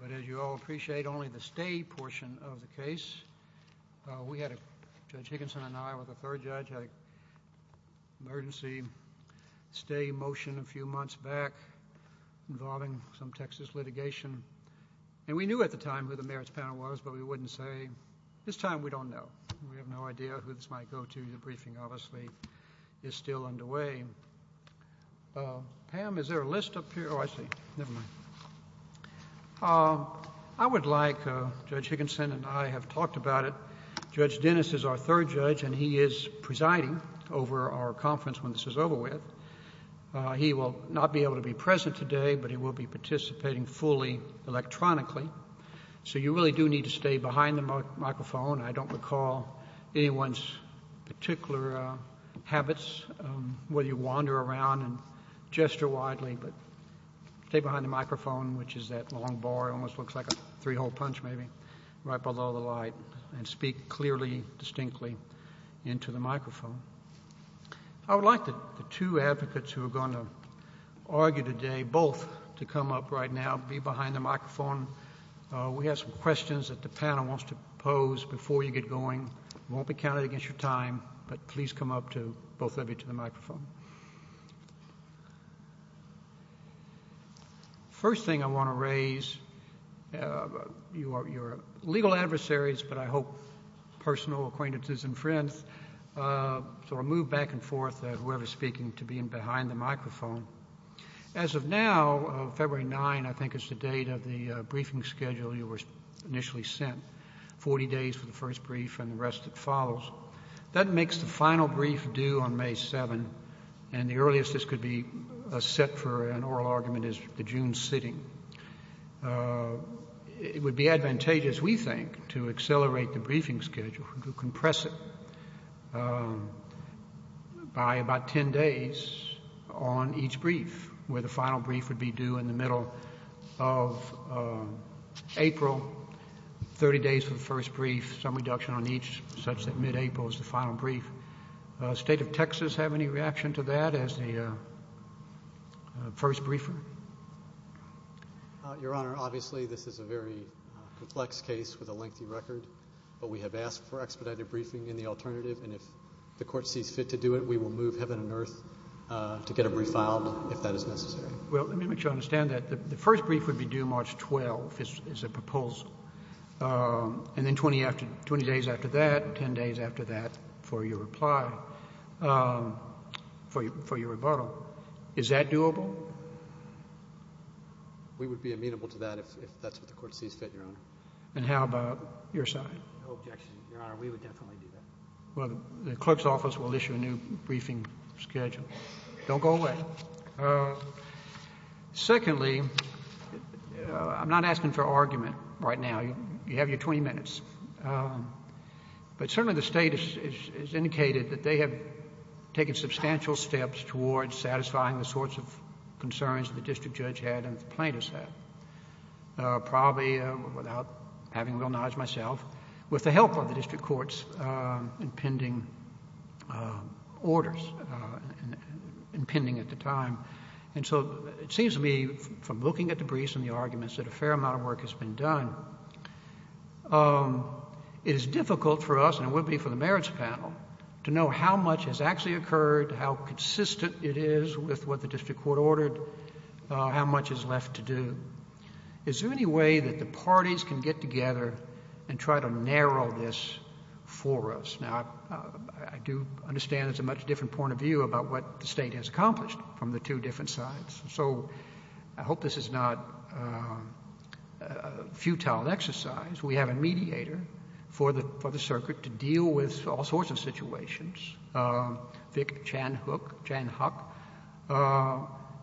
But as you all appreciate, only the stay portion of the case. We had a, Judge Higginson and I were the third judge, had an emergency stay motion a few months back involving some Texas litigation. And we knew at the time who the merits panel was, but we wouldn't say. This time we don't know. We have no idea who this might go to. The briefing, obviously, is still underway. Pam, is there a list up here? Oh, I see. Never mind. I would like, Judge Higginson and I have talked about it, Judge Dennis is our third judge and he is presiding over our conference when this is over with. He will not be able to be present today, but he will be participating fully electronically. So you really do need to stay behind the microphone. I don't recall anyone's particular habits, whether you wander around and gesture widely, but stay behind the microphone, which is that long bar, almost looks like a three-hole punch maybe, right below the light, and speak clearly, distinctly into the microphone. I would like the two advocates who are going to argue today, both to come up right now, be behind the microphone. We have some questions that the panel wants to pose before you get going. You won't be counted against your time, but please come up, both of you, to the microphone. First thing I want to raise, you are legal adversaries, but I hope personal acquaintances and friends. So I will move back and forth, whoever is speaking, to being behind the microphone. As of now, February 9, I think is the date of the briefing schedule you were initially sent, 40 days for the first brief and the rest that follows. That makes the final brief due on May 7, and the earliest this could be set for an oral argument is the June sitting. It would be advantageous, we think, to accelerate the briefing schedule, to compress it by about 10 days on each brief, where the final brief would be due in the middle of April, 30 days for the first brief, some reduction on each such that mid-April is the final brief. State of Texas have any reaction to that as the first briefer? Your Honor, obviously this is a very complex case with a lengthy record, but we have asked for expedited briefing in the alternative, and if the Court sees fit to do it, we will move heaven and earth to get a brief filed if that is necessary. Well, let me make sure I understand that. The first brief would be due March 12, is the proposal, and then 20 days after that, 10 days after that for your reply, for your rebuttal. Is that doable? We would be amenable to that if that's what the Court sees fit, Your Honor. And how about your side? No objection, Your Honor. We would definitely do that. Well, the clerk's office will issue a new briefing schedule. Don't go away. Secondly, I'm not asking for argument right now. You have your 20 minutes, but certainly the State has indicated that they have taken substantial steps towards satisfying the sorts of concerns the district judge had and plaintiffs had, probably without having real knowledge myself, with the help of the district court's impending orders, impending at the time, and so it seems to me from looking at the briefs and the arguments that a fair amount of work has been done, it is difficult for us, and it would be for the merits panel, to know how much has actually occurred, how consistent it is with what the Is there any way that the parties can get together and try to narrow this for us? Now, I do understand it's a much different point of view about what the State has accomplished from the two different sides. So I hope this is not a futile exercise. We have a mediator for the circuit to deal with all sorts of situations, Vic Chanhuck,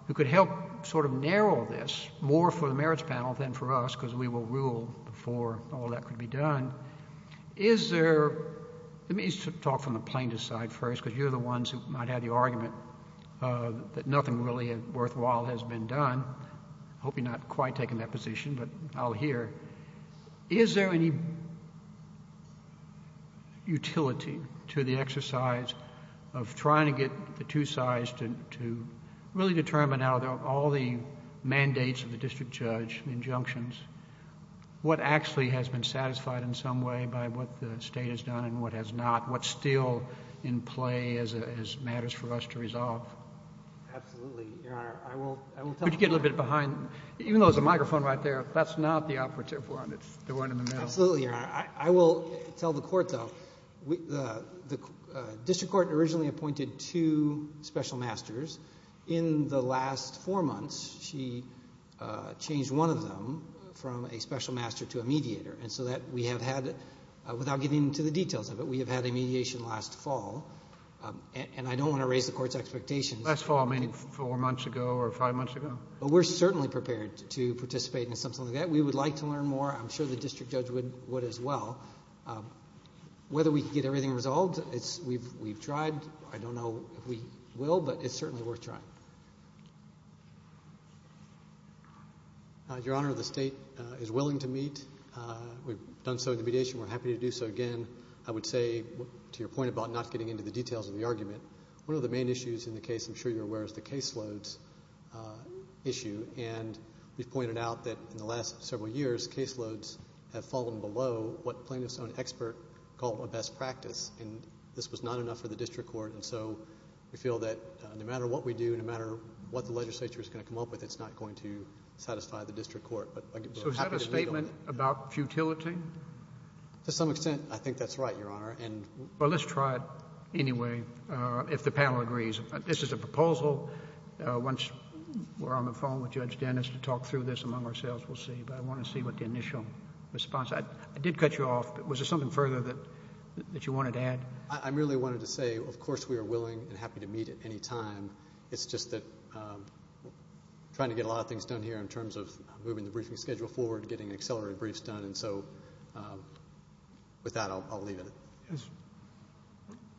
who could help sort of narrow this more for the merits panel than for us, because we will rule before all that could be done. Is there, let me talk from the plaintiff's side first, because you're the ones who might have the argument that nothing really worthwhile has been done. I hope you're not quite taking that position, but I'll hear. Is there any utility to the exercise of trying to get the two sides to really determine how all the mandates of the district judge, the injunctions, what actually has been satisfied in some way by what the State has done and what has not, what's still in play as matters for us to resolve? Absolutely, Your Honor. I will tell you. Could you get a little bit behind? Even though there's a microphone right there, that's not the operative one. It's the one in the middle. Absolutely, Your Honor. I will tell the Court, though, the district court originally appointed two special masters. In the last four months, she changed one of them from a special master to a mediator, and so that we have had, without getting into the details of it, we have had a mediation last fall. And I don't want to raise the Court's expectations. Last fall, meaning four months ago or five months ago? But we're certainly prepared to participate in something like that. We would like to learn more. I'm sure the district judge would as well. Whether we can get everything resolved, we've tried. I don't know if we will, but it's certainly worth trying. Your Honor, the State is willing to meet. We've done so in the mediation. We're happy to do so again. I would say, to your point about not getting into the details of the argument, one of the main issues in the case, I'm sure you're aware, is the caseloads issue. And we've pointed out that in the last several years, caseloads have fallen below what plaintiff's own expert called a best practice, and this was not enough for the district court. And so we feel that no matter what we do, no matter what the legislature is going to come up with, it's not going to satisfy the district court. So is that a statement about futility? To some extent, I think that's right, Your Honor. Well, let's try it anyway, if the panel agrees. This is a proposal. Once we're on the phone with Judge Dennis to talk through this among ourselves, we'll see. But I want to see what the initial response... I did cut you off, but was there something further that you wanted to add? I merely wanted to say, of course, we are willing and happy to meet at any time. It's just that we're trying to get a lot of things done here in terms of moving the briefing schedule forward, getting accelerated briefs done. And so with that, I'll leave it at that.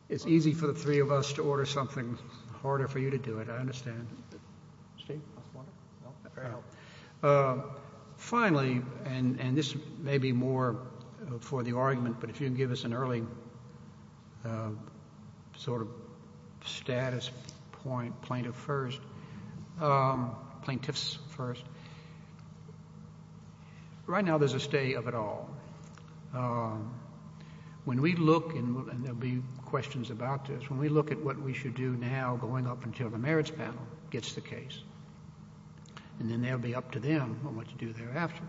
It's easy for the three of us to order something, harder for you to do it, I understand. Finally, and this may be more for the argument, but if you can give us an early sort of status point, plaintiff's first. Right now, there's a stay of it all. When we look, and there'll be questions about this, when we look at what we should do now going up until the merits panel gets the case, and then that'll be up to them on what to do thereafter,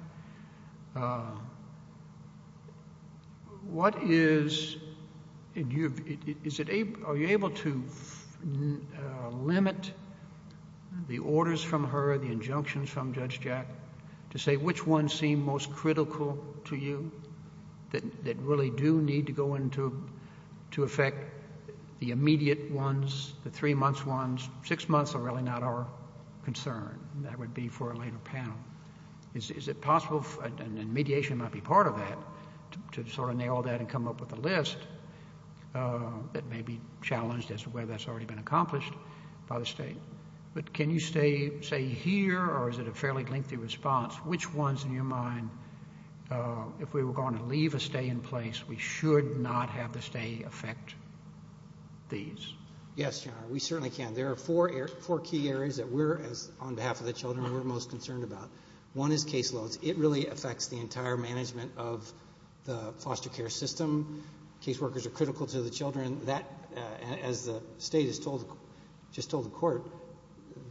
what is... are you able to limit the orders from her, the injunctions from Judge Jack, to say which ones seem most critical to you, that really do need to go into effect, the immediate ones, the three-months ones? Six months are really not our concern, and that would be for a later panel. Is it possible, and mediation might be part of that, to sort of nail that and come up with a list that may be challenged as to whether that's already been accomplished by the State. But can you say here, or is it a fairly lengthy response, which ones in your mind, if we were going to leave a stay in place, we should not have the stay affect these? Yes, Your Honor, we certainly can. There are four key areas that we're, on behalf of the children, we're most concerned about. One is caseloads. It really affects the entire management of the foster care system. Caseworkers are critical to the children. That, as the State has just told the Court,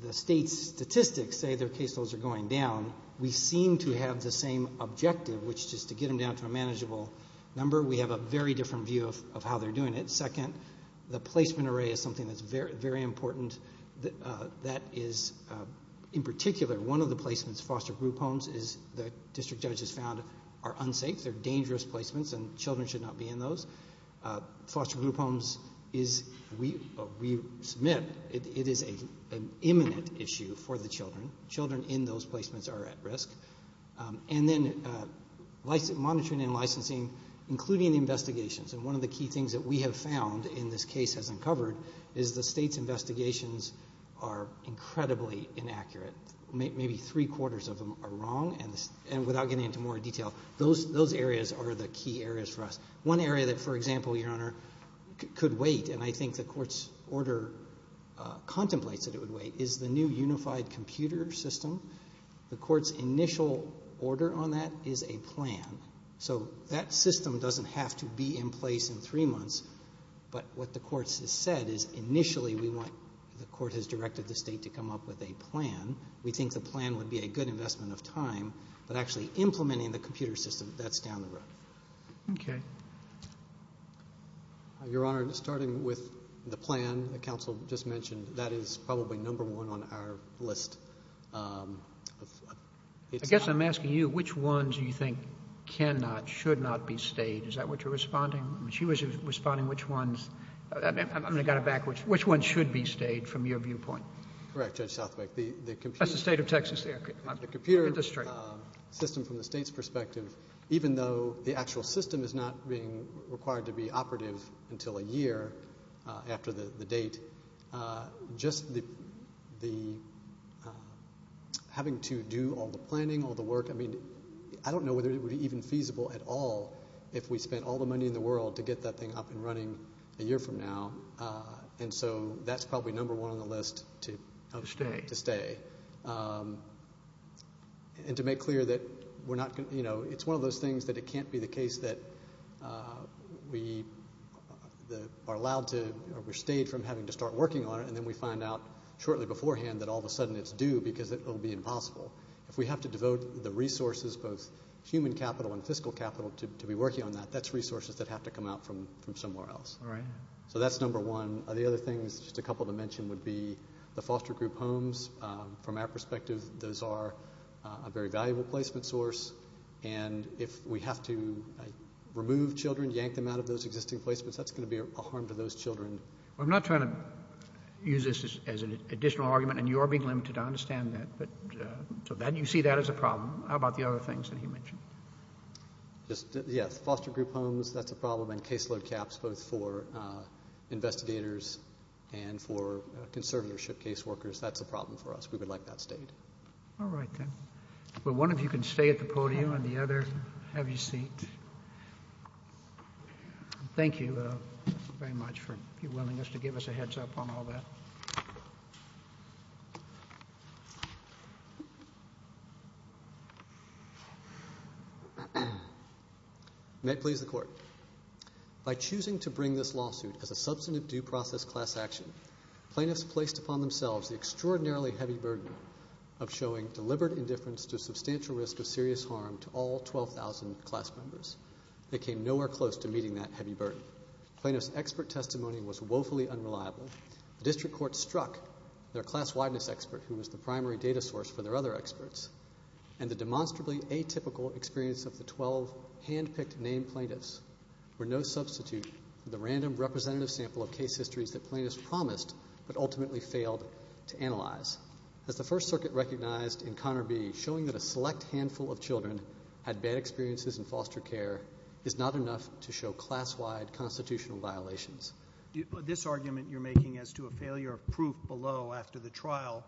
the State's statistics say their caseloads are going down. We seem to have the same objective, which is to get them down to a manageable number. We have a very different view of how they're doing it. Second, the placement array is something that's very important. That is, in particular, one of the placements, foster group homes, the District Judge has found are unsafe. They're dangerous placements, and children should not be in those. Foster group homes is, we submit, it is an imminent issue for the children. Children in those placements are at risk. And then, monitoring and licensing, including investigations, and one of the key things that we have found, and this case has uncovered, is the State's investigations are incredibly inaccurate. Maybe three-quarters of them are wrong, and without getting into more detail, those areas are the key areas for us. One area that, for example, Your Honor, could wait, and I think the Court's order contemplates that it would wait, is the new unified computer system. The Court's initial order on that is a plan. So that system doesn't have to be in place in three months, but what the Court has said is initially we want, the Court has directed the State to come up with a plan. We think the plan would be a good investment of time, but actually implementing the computer system, that's down the road. Okay. Your Honor, starting with the plan that counsel just mentioned, that is probably number one on our list. I guess I'm asking you, which ones do you think cannot, should not be stayed? Is that what you're responding? She was responding which ones, I'm going to got it backwards, which ones should be stayed from your viewpoint? Correct, Judge Southwick. The computer. That's the State of Texas. The computer system from the State's perspective. Even though the actual system is not being required to be operative until a year after the date, just the, having to do all the planning, all the work, I mean, I don't know whether it would be even feasible at all if we spent all the money in the world to get that thing up and running a year from now. And so that's probably number one on the list to stay. And to make clear that we're not going to, you know, it's one of those things that it can't be the case that we are allowed to, we're stayed from having to start working on it and then we find out shortly beforehand that all of a sudden it's due because it will be impossible. If we have to devote the resources, both human capital and fiscal capital, to be working on that, that's resources that have to come out from somewhere else. So that's number one. The other things, just a couple to mention, would be the foster group homes. From our perspective, those are a very valuable placement source and if we have to remove children, yank them out of those existing placements, that's going to be a harm to those children. Well, I'm not trying to use this as an additional argument and you are being limited, I understand that. But so that, you see that as a problem. How about the other things that he mentioned? Just, yes, foster group homes, that's a problem and caseload caps both for investigators and for conservatorship caseworkers, that's a problem for us. We would like that stayed. All right then. Well, one of you can stay at the podium and the other, have your seat. Thank you very much for your willingness to give us a heads up on all that. May it please the Court. By choosing to bring this lawsuit as a substantive due process class action, plaintiffs placed upon themselves the extraordinarily heavy burden of showing deliberate indifference to a substantial risk of serious harm to all 12,000 class members. They came nowhere close to meeting that heavy burden. Plaintiffs' expert testimony was woefully unreliable, the district court struck their class-wideness expert, who was the primary data source for their other experts, and the demonstrably atypical experience of the 12 hand-picked named plaintiffs were no substitute for the random representative sample of case histories that plaintiffs promised but ultimately failed to analyze. As the First Circuit recognized in Connor B., showing that a select handful of children had bad experiences in foster care is not enough to show class-wide constitutional violations. This argument you're making as to a failure of proof below after the trial,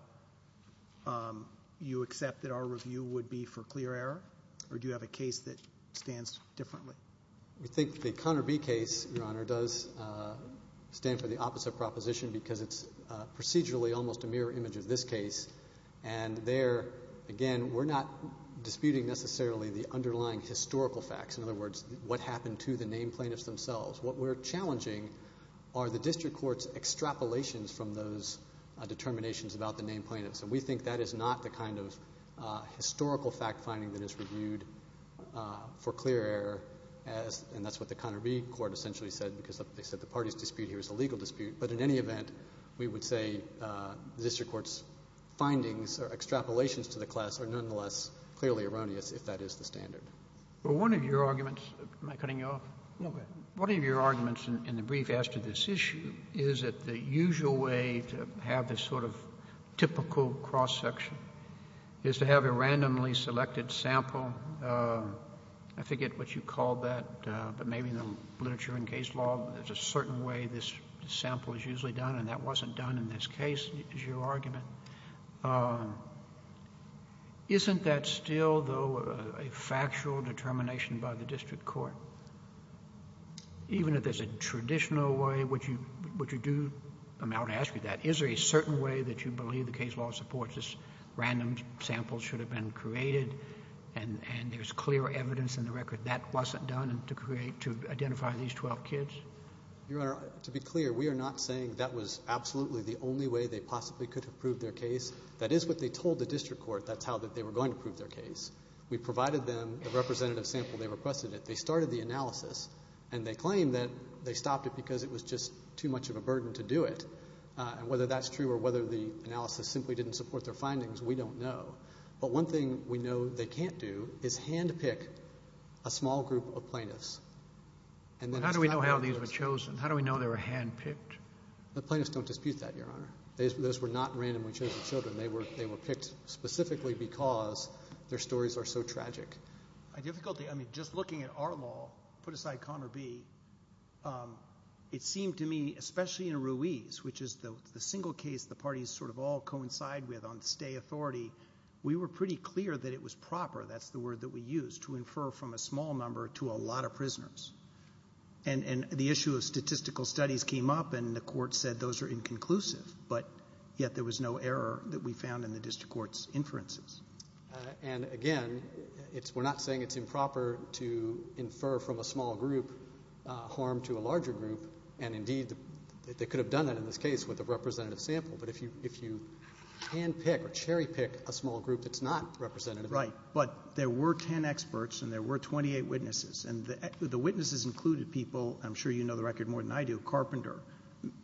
you accept that our review would be for clear error, or do you have a case that stands differently? We think the Connor B. case, Your Honor, does stand for the opposite proposition because it's procedurally almost a mirror image of this case, and there, again, we're not disputing necessarily the underlying historical facts, in other words, what happened to the named plaintiffs themselves. What we're challenging are the district court's extrapolations from those determinations about the named plaintiffs. And we think that is not the kind of historical fact-finding that is reviewed for clear error as — and that's what the Connor B. Court essentially said, because they said the party's dispute here is a legal dispute. But in any event, we would say the district court's findings or extrapolations to the class are nonetheless clearly erroneous, if that is the standard. One of your arguments — am I cutting you off? No, go ahead. One of your arguments in the brief as to this issue is that the usual way to have this sort of typical cross-section is to have a randomly selected sample. I forget what you called that, but maybe in the literature and case law, there's a certain way this sample is usually done, and that wasn't done in this case, is your argument. Isn't that still, though, a factual determination by the district court? Even if there's a traditional way, would you do — I'm going to ask you that. Is there a certain way that you believe the case law supports this random sample should have been created, and there's clear evidence in the record that wasn't done to create — to identify these 12 kids? Your Honor, to be clear, we are not saying that was absolutely the only way they possibly could have proved their case. That is what they told the district court. That's how that they were going to prove their case. We provided them the representative sample they requested. They started the analysis, and they claim that they stopped it because it was just too much of a burden to do it. And whether that's true or whether the analysis simply didn't support their findings, we don't know. But one thing we know they can't do is hand-pick a small group of plaintiffs, and then — But how do we know how these were chosen? How do we know they were hand-picked? The plaintiffs don't dispute that, Your Honor. Those were not randomly chosen children. They were picked specifically because their stories are so tragic. My difficulty — I mean, just looking at our law, put aside Conner B, it seemed to me, especially in Ruiz, which is the single case the parties sort of all coincide with on stay authority, we were pretty clear that it was proper — that's the word that we used — to infer from a small number to a lot of prisoners. And the issue of statistical studies came up, and the court said those are inconclusive. But yet there was no error that we found in the district court's inferences. And again, we're not saying it's improper to infer from a small group harm to a larger group. And indeed, they could have done it in this case with a representative sample. But if you hand-pick or cherry-pick a small group that's not representative — Right. But there were 10 experts, and there were 28 witnesses. And the witnesses included people — I'm sure you know the record more than I do — Carpenter.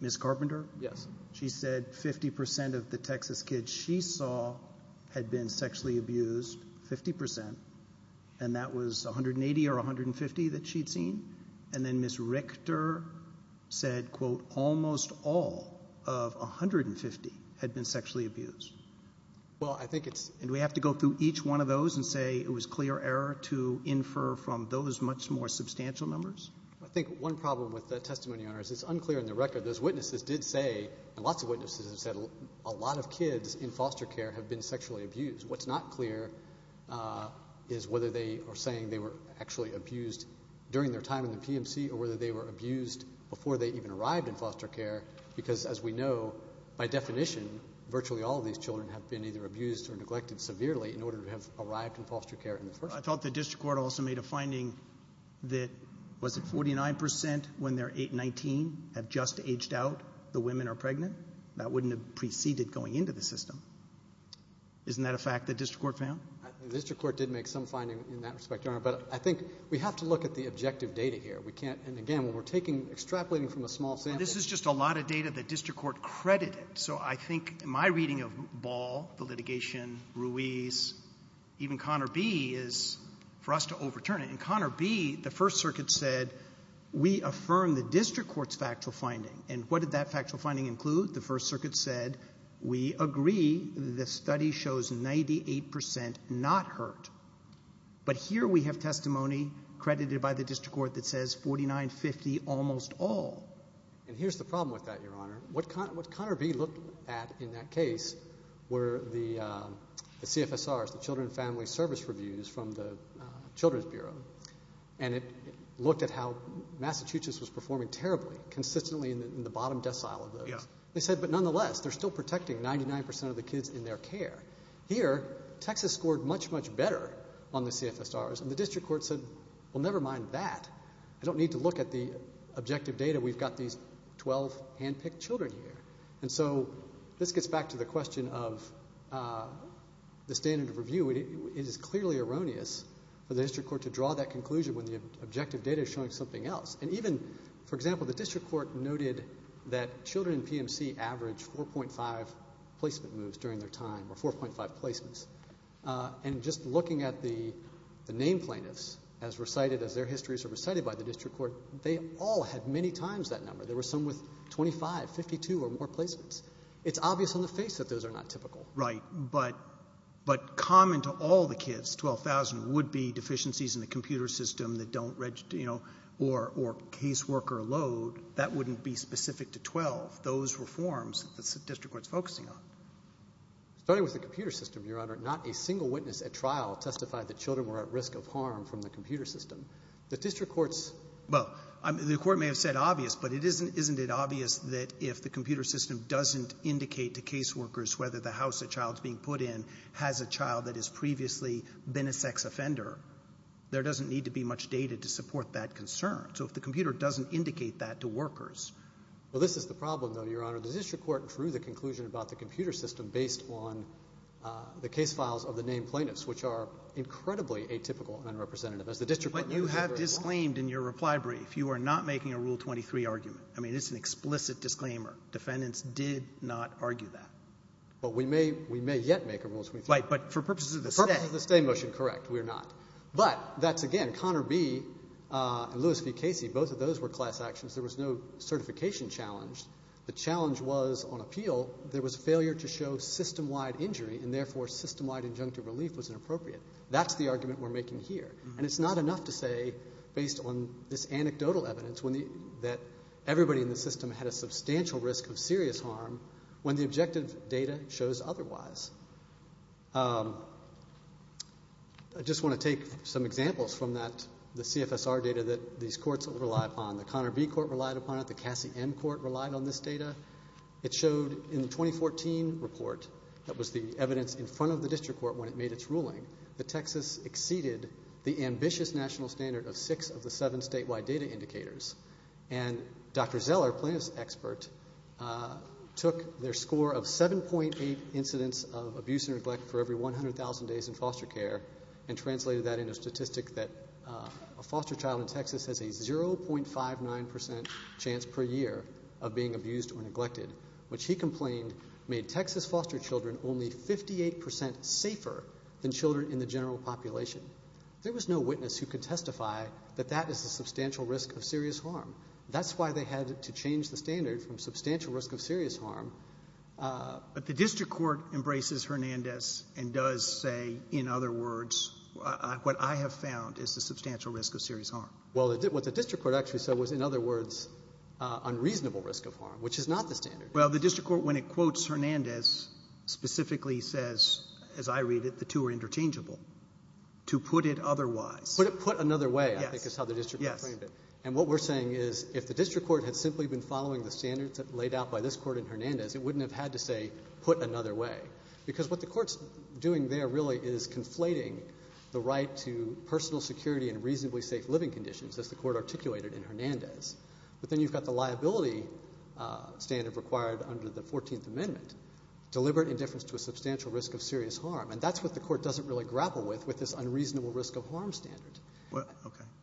Ms. Carpenter? Yes. She said 50 percent of the Texas kids she saw had been sexually abused, 50 percent. And that was 180 or 150 that she'd seen. And then Ms. Richter said, quote, almost all of 150 had been sexually abused. Well, I think it's — And do we have to go through each one of those and say it was clear error to infer from those much more substantial numbers? I think one problem with that testimony, Your Honor, is it's unclear in the record. Those witnesses did say — and lots of witnesses have said — a lot of kids in foster care have been sexually abused. What's not clear is whether they are saying they were actually abused during their time in the PMC or whether they were abused before they even arrived in foster care. Because as we know, by definition, virtually all of these children have been either abused or neglected severely in order to have arrived in foster care in the first place. I thought the district court also made a finding that, was it 49 percent when they're 8, 19, have just aged out, the women are pregnant? That wouldn't have preceded going into the system. Isn't that a fact the district court found? The district court did make some findings in that respect, Your Honor. But I think we have to look at the objective data here. We can't — and again, when we're taking — extrapolating from a small sample — This is just a lot of data the district court credited. So I think my reading of Ball, the litigation, Ruiz, even Connor B., is for us to overturn it. In Connor B., the First Circuit said, we affirm the district court's factual finding. And what did that factual finding include? The First Circuit said, we agree the study shows 98 percent not hurt. But here we have testimony credited by the district court that says 49, 50, almost all. And here's the problem with that, Your Honor. What Connor B. looked at in that case were the CFSRs, the Children and Family Service Reviews from the Children's Bureau. And it looked at how Massachusetts was performing terribly, consistently in the bottom decile of those. They said, but nonetheless, they're still protecting 99 percent of the kids in their care. Here, Texas scored much, much better on the CFSRs. And the district court said, well, never mind that. I don't need to look at the objective data. We've got these 12 hand-picked children here. And so this gets back to the question of the standard of review. It is clearly erroneous for the district court to draw that conclusion when the objective data is showing something else. And even, for example, the district court noted that children in PMC averaged 4.5 placement moves during their time, or 4.5 placements. And just looking at the name plaintiffs as recited as their histories are recited by the district court, they all had many times that number. There were some with 25, 52, or more placements. It's obvious on the face that those are not typical. Right. But common to all the kids, 12,000, would be deficiencies in the computer system that don't register, you know, or caseworker load. That wouldn't be specific to 12. Those were forms that the district court's focusing on. Starting with the computer system, Your Honor, not a single witness at trial testified that children were at risk of harm from the computer system. The district court's, well, the court may have said obvious, but isn't it obvious that if the computer system doesn't indicate that a child that has previously been a sex offender, there doesn't need to be much data to support that concern. So if the computer doesn't indicate that to workers. Well, this is the problem, though, Your Honor. The district court drew the conclusion about the computer system based on the case files of the name plaintiffs, which are incredibly atypical and unrepresentative. As the district court noted very well. But you have disclaimed in your reply brief, you are not making a Rule 23 argument. I mean, it's an explicit disclaimer. Defendants did not argue that. But we may, we may yet make a Rule 23. Right. But for purposes of the stay. For purposes of the stay motion, correct. We are not. But that's, again, Connor B. and Lewis v. Casey, both of those were class actions. There was no certification challenge. The challenge was on appeal, there was failure to show system-wide injury, and therefore system-wide injunctive relief was inappropriate. That's the argument we're making here. And it's not enough to say, based on this anecdotal evidence, when the, that everybody in the system had a substantial risk of serious harm when the objective data shows otherwise. I just want to take some examples from that, the CFSR data that these courts rely upon. The Connor B. Court relied upon it. The Cassie M. Court relied on this data. It showed in the 2014 report, that was the evidence in front of the district court when it made its ruling, that Texas exceeded the ambitious national standard of six of the seven statewide data indicators. And Dr. Zeller, plaintiff's expert, took their score of 7.8 incidents of abuse and neglect for every 100,000 days in foster care, and translated that into a statistic that a foster child in Texas has a 0.59% chance per year of being abused or neglected, which he complained made Texas foster children only 58% safer than children in the general population. There was no witness who could testify that that is a substantial risk of serious harm. That's why they had to change the standard from substantial risk of serious harm. But the district court embraces Hernandez and does say, in other words, what I have found is the substantial risk of serious harm. Well, what the district court actually said was, in other words, unreasonable risk of harm, which is not the standard. Well, the district court, when it quotes Hernandez, specifically says, as I read it, the two are interchangeable. To put it otherwise. Put it another way, I think, is how the district court framed it. And what we're saying is, if the district court had simply been following the standards laid out by this court in Hernandez, it wouldn't have had to say, put another way. Because what the court's doing there really is conflating the right to personal security and reasonably safe living conditions, as the court articulated in Hernandez. But then you've got the liability standard required under the 14th Amendment. Deliberate indifference to a substantial risk of serious harm. And that's what the court doesn't really grapple with, with this unreasonable risk of harm standard.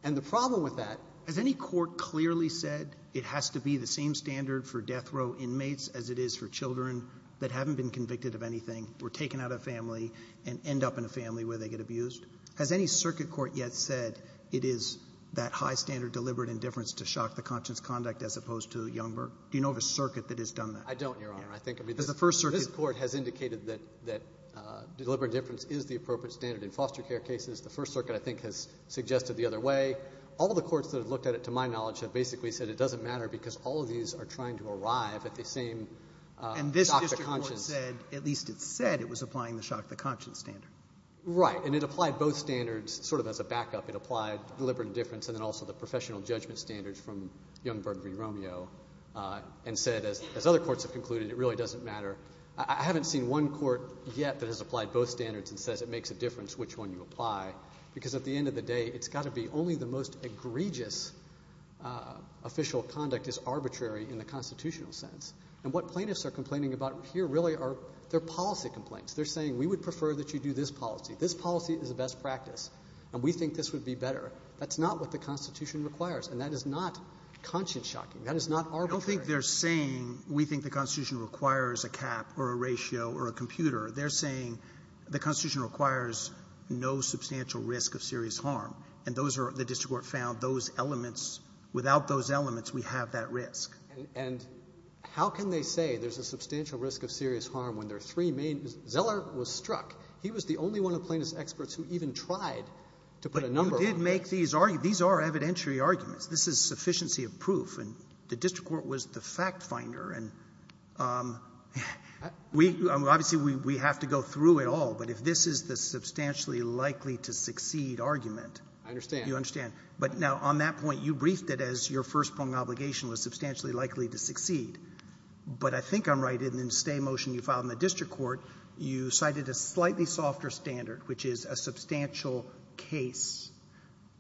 And the problem with that, has any court clearly said it has to be the same standard for death row inmates as it is for children that haven't been convicted of anything, were taken out of a family, and end up in a family where they get abused? Has any circuit court yet said it is that high standard, deliberate indifference, to shock the conscience conduct, as opposed to Youngberg? Do you know of a circuit that has done that? I don't, Your Honor. I think, I mean, this court has indicated that deliberate indifference is the appropriate standard in foster care cases. The First Circuit, I think, has suggested the other way. All the courts that have looked at it, to my knowledge, have basically said it doesn't matter because all of these are trying to arrive at the same shock the conscience. And this district court said, at least it said it was applying the shock the conscience standard. Right. And it applied both standards, sort of as a backup. It applied deliberate indifference, and then also the professional judgment standards from Youngberg v. Romeo, and said, as other courts have concluded, it really doesn't matter. I haven't seen one court yet that has applied both standards and says it makes a difference which one you apply, because at the end of the day, it's got to be only the most egregious official conduct is arbitrary in the constitutional sense. And what plaintiffs are complaining about here really are their policy complaints. They're saying, we would prefer that you do this policy. This policy is the best practice, and we think this would be better. That's not what the Constitution requires, and that is not conscience shocking. That is not arbitrary. I don't think they're saying, we think the Constitution requires a cap or a ratio or a computer. They're saying the Constitution requires no substantial risk of serious harm. And those are the district court found, those elements, without those elements, we have that risk. And how can they say there's a substantial risk of serious harm when there are three main — Zeller was struck. He was the only one of the plaintiffs' experts who even tried to put a number on it. But you did make these arguments. These are evidentiary arguments. This is sufficiency of proof. And the district court was the fact finder. And we — obviously, we have to go through it all. But if this is the substantially likely-to-succeed argument — I understand. You understand. But now, on that point, you briefed it as your first-prong obligation was substantially likely to succeed. But I think I'm right in the stay motion you filed in the district court. You cited a slightly softer standard, which is a substantial case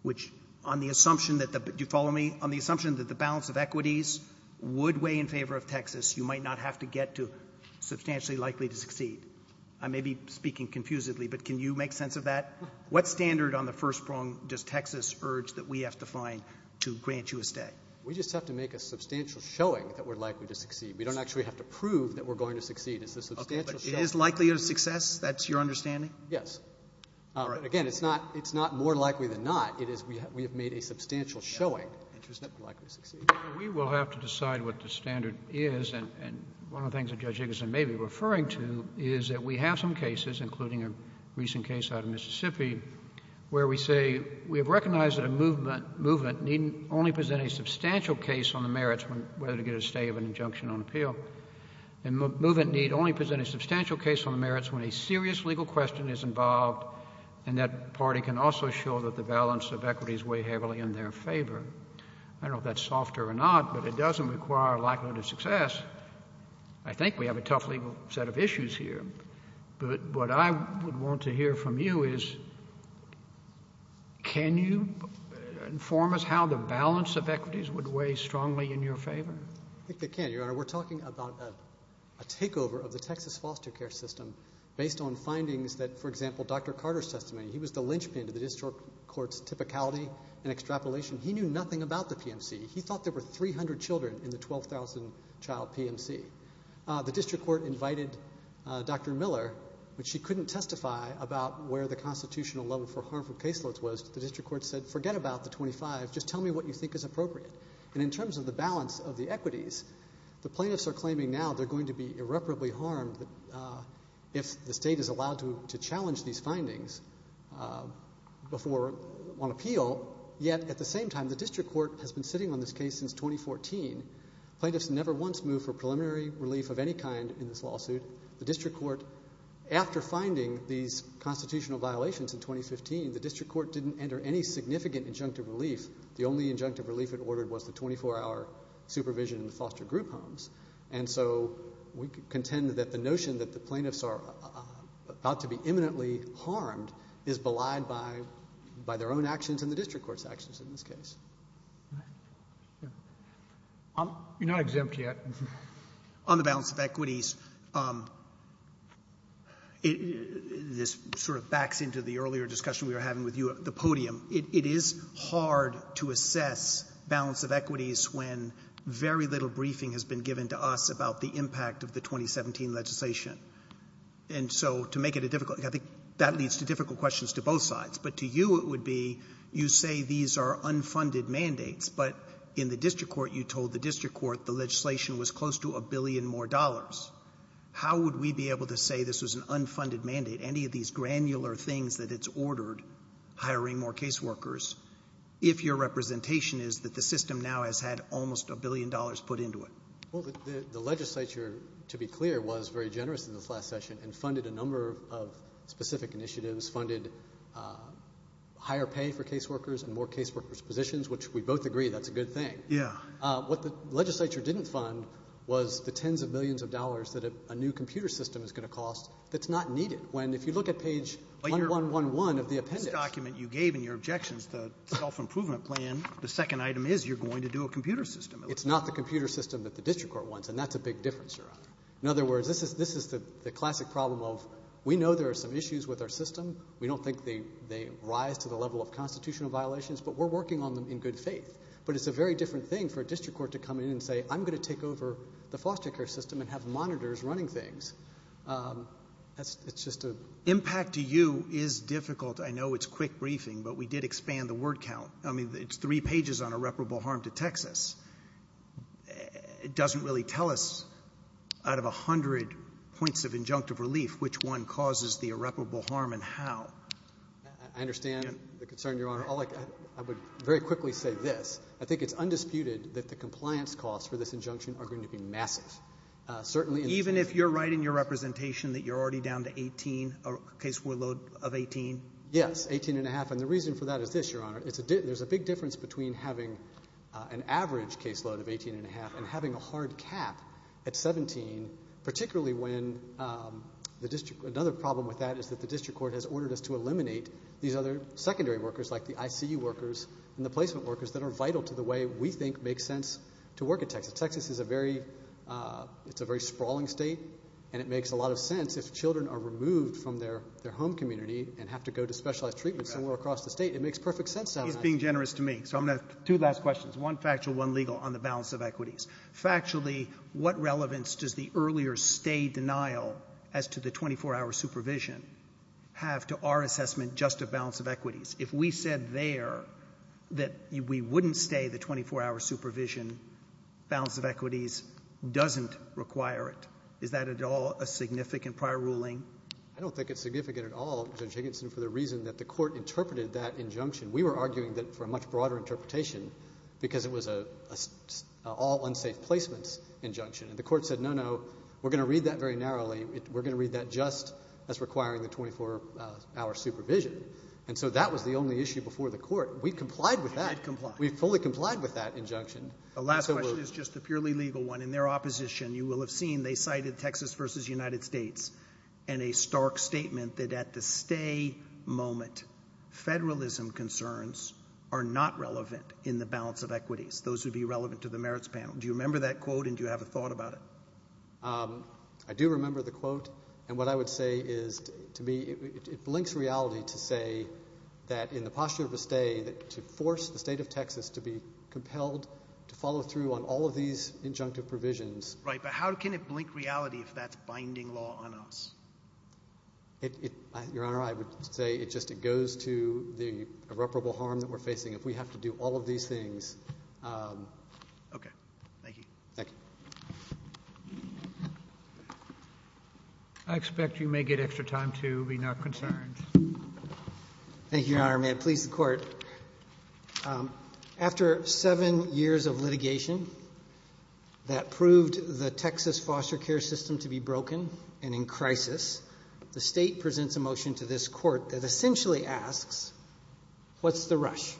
which, on the assumption that the — do you follow me? On the assumption that the balance of equities would weigh in favor of Texas, you might not have to get to substantially likely-to-succeed. I may be speaking confusedly, but can you make sense of that? What standard on the first-prong does Texas urge that we have to find to grant you a stay? We just have to make a substantial showing that we're likely to succeed. We don't actually have to prove that we're going to succeed. It's a substantial showing. Okay. But it is likely a success? That's your understanding? Yes. All right. Again, it's not — it's not more likely than not. It is — we have made a substantial showing. Interest that we're likely to succeed. We will have to decide what the standard is. And one of the things that Judge Iggeson may be referring to is that we have some cases, including a recent case out of Mississippi, where we say we have recognized that a movement — movement need only present a substantial case on the merits when — whether to get a stay of an injunction on appeal. And movement need only present a substantial case on the merits when a serious legal question is involved, and that party can also show that the balance of equities weigh heavily in their favor. I don't know if that's softer or not, but it doesn't require likelihood of success. I think we have a tough legal set of issues here. But what I would want to hear from you is, can you inform us how the balance of equities would weigh strongly in your favor? I think they can, Your Honor. We're talking about a takeover of the Texas foster care system based on findings that, for example, Dr. Carter's testimony — he was the linchpin to the district court's typicality and extrapolation. He knew nothing about the PMC. He thought there were 300 children in the 12,000-child PMC. The district court invited Dr. Miller, but she couldn't testify about where the constitutional level for harmful caseloads was. The district court said, forget about the 25. Just tell me what you think is appropriate. And in terms of the balance of the equities, the plaintiffs are claiming now they're going to be irreparably harmed if the state is allowed to challenge these The district court has been sitting on this case since 2014. Plaintiffs never once moved for preliminary relief of any kind in this lawsuit. The district court — after finding these constitutional violations in 2015, the district court didn't enter any significant injunctive relief. The only injunctive relief it ordered was the 24-hour supervision in the foster group homes. And so we contend that the notion that the plaintiffs are about to be imminently harmed is belied by their own actions and the district court's actions in this case. You're not exempt yet. On the balance of equities, this sort of backs into the earlier discussion we were having with you at the podium. It is hard to assess balance of equities when very little briefing has been given to us about the impact of the 2017 legislation. And so to make it a difficult — I think that leads to difficult questions to both sides. But to you, it would be, you say these are unfunded mandates. But in the district court, you told the district court the legislation was close to a billion more dollars. How would we be able to say this was an unfunded mandate, any of these granular things that it's ordered — hiring more caseworkers — if your representation is that the system now has had almost a billion dollars put into it? Well, the legislature, to be clear, was very generous in this last session and higher pay for caseworkers and more caseworkers' positions, which we both agree that's a good thing. Yeah. What the legislature didn't fund was the tens of millions of dollars that a new computer system is going to cost that's not needed. When, if you look at page 1111 of the appendix — This document you gave in your objections to the self-improvement plan, the second item is you're going to do a computer system. It's not the computer system that the district court wants, and that's a big difference, Your Honor. In other words, this is the classic problem of we know there are some issues with our system. We don't think they rise to the level of constitutional violations, but we're working on them in good faith. But it's a very different thing for a district court to come in and say, I'm going to take over the foster care system and have monitors running things. That's — it's just a — Impact to you is difficult. I know it's quick briefing, but we did expand the word count. I mean, it's three pages on irreparable harm to Texas. It doesn't really tell us, out of 100 points of injunctive relief, which one causes the irreparable harm and how. I understand the concern, Your Honor. All I can — I would very quickly say this. I think it's undisputed that the compliance costs for this injunction are going to be massive, certainly in — Even if you're right in your representation that you're already down to 18, a case load of 18? Yes, 18 and a half. And the reason for that is this, Your Honor. It's a — there's a big difference between having an average case load of 18 and a hard cap at 17, particularly when the district — another problem with that is that the district court has ordered us to eliminate these other secondary workers, like the ICU workers and the placement workers, that are vital to the way we think makes sense to work in Texas. Texas is a very — it's a very sprawling state, and it makes a lot of sense if children are removed from their home community and have to go to specialized treatment somewhere across the state. It makes perfect sense to have — He's being generous to me. So I'm going to — two last questions. One factual, one legal, on the balance of equities. Factually, what relevance does the earlier stay denial as to the 24-hour supervision have to our assessment just of balance of equities? If we said there that we wouldn't stay the 24-hour supervision, balance of equities doesn't require it. Is that at all a significant prior ruling? I don't think it's significant at all, Judge Higginson, for the reason that the court interpreted that injunction. We were arguing that for a much broader interpretation because it was an all-unsafe placements injunction. And the court said, no, no, we're going to read that very narrowly. We're going to read that just as requiring the 24-hour supervision. And so that was the only issue before the court. We complied with that. We did comply. We fully complied with that injunction. The last question is just a purely legal one. In their opposition, you will have seen they cited Texas versus United States in a stark statement that at the stay moment, federalism concerns are not relevant in the balance of equities. Those would be relevant to the merits panel. Do you remember that quote? And do you have a thought about it? I do remember the quote. And what I would say is, to me, it blinks reality to say that in the posture of a stay, to force the state of Texas to be compelled to follow through on all of these injunctive provisions. Right. But how can it blink reality if that's binding law on us? Your Honor, I would say it just goes to the irreparable harm that we're facing. If we have to do all of these things. Okay. Thank you. Thank you. I expect you may get extra time, too, being not concerned. Thank you, Your Honor. May it please the Court. After seven years of litigation that proved the Texas foster care system to be broken and in crisis, the State presents a motion to this Court that essentially asks, what's the rush?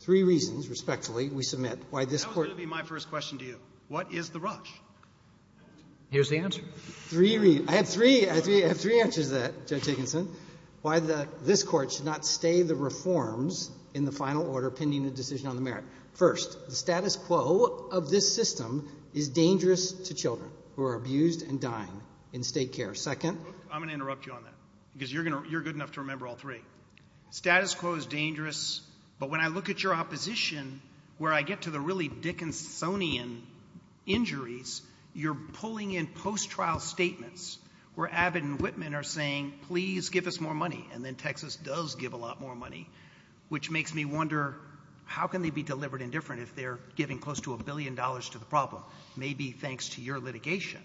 Three reasons, respectfully, we submit why this Court That was going to be my first question to you. What is the rush? Here's the answer. Three reasons. I have three. I have three answers to that, Judge Higginson. Why this Court should not stay the reforms in the final order pending the decision on the merit. First, the status quo of this system is dangerous to children who are abused and dying in state care. Second. I'm going to interrupt you on that because you're good enough to remember all three. Status quo is dangerous, but when I look at your opposition, where I get to the really Dickinsonian injuries, you're pulling in post-trial statements where Abbott and Whitman are saying, please give us more money. And then Texas does give a lot more money, which makes me wonder, how can they be delivered indifferent if they're giving close to a billion dollars to the problem? Maybe thanks to your litigation.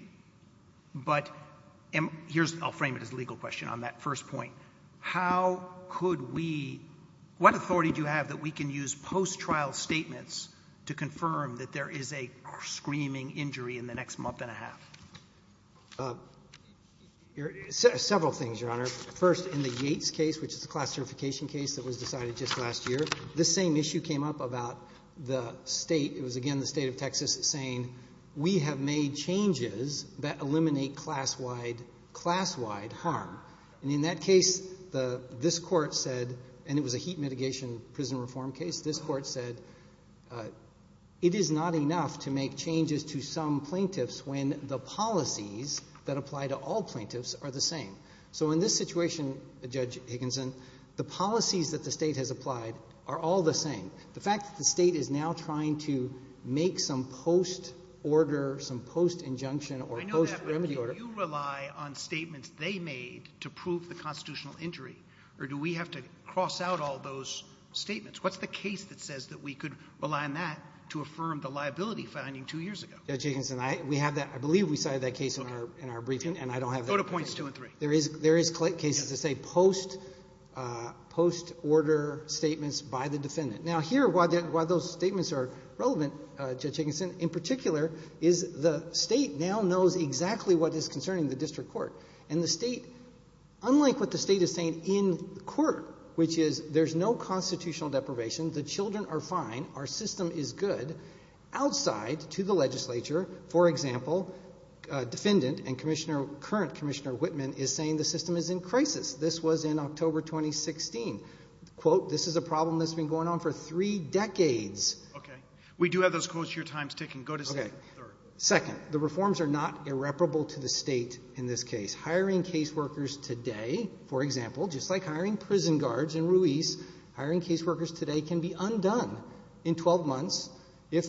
But here's, I'll frame it as a legal question on that first point. How could we, what authority do you have that we can use post-trial statements to confirm that there is a screaming injury in the next month and a half? Several things, Your Honor. First, in the Yates case, which is a class certification case that was decided just last year, this same issue came up about the state, it was again the state of Texas, saying, we have made changes that eliminate class-wide harm, and in that case, this court said, and it was a heat mitigation prison reform case, this court said, it is not enough to make sure that the policies that apply to all plaintiffs are the same. So in this situation, Judge Higginson, the policies that the state has applied are all the same. The fact that the state is now trying to make some post-order, some post-injunction or post-remedy order. I know that, but do you rely on statements they made to prove the constitutional injury, or do we have to cross out all those statements? What's the case that says that we could rely on that to affirm the liability finding two years ago? Judge Higginson, we have that. I believe we cited that case in our briefing, and I don't have that case. Go to points two and three. There is cases that say post-order statements by the defendant. Now, here, why those statements are relevant, Judge Higginson, in particular, is the state now knows exactly what is concerning the district court, and the state, unlike what the state is saying in court, which is there's no constitutional deprivation, the children are fine, our system is good, outside to the legislature, for example, defendant and current Commissioner Whitman is saying the system is in crisis. This was in October 2016. This is a problem that's been going on for three decades. We do have those quotes. Your time is ticking. Go to second and third. Second, the reforms are not irreparable to the state in this case. Hiring case workers today, for example, just like hiring prison guards in Ruiz, hiring is done in 12 months if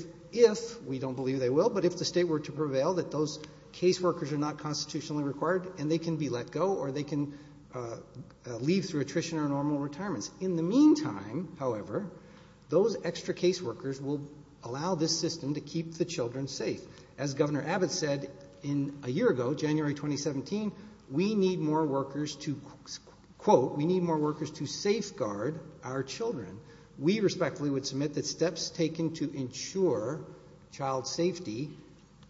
we don't believe they will, but if the state were to prevail that those case workers are not constitutionally required, and they can be let go, or they can leave through attrition or normal retirements. In the meantime, however, those extra case workers will allow this system to keep the children safe. As Governor Abbott said a year ago, January 2017, we need more workers to, quote, we need more workers to safeguard our children. We respectfully would submit that steps taken to ensure child safety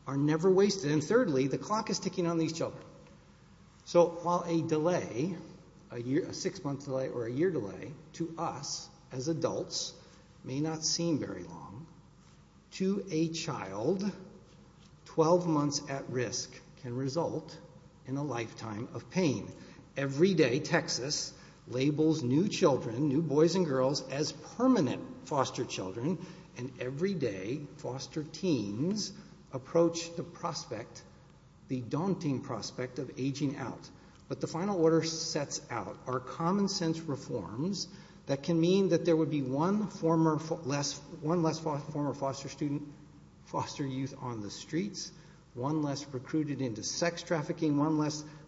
are never wasted. And thirdly, the clock is ticking on these children. So while a delay, a six-month delay or a year delay, to us as adults may not seem very long, to a child, 12 months at risk can result in a lifetime of pain. Every day, Texas labels new children, new boys and girls, as permanent foster children. And every day, foster teens approach the prospect, the daunting prospect of aging out. But the final order sets out our common sense reforms that can mean that there would be one less former foster student, foster youth on the streets, one less recruited into sex and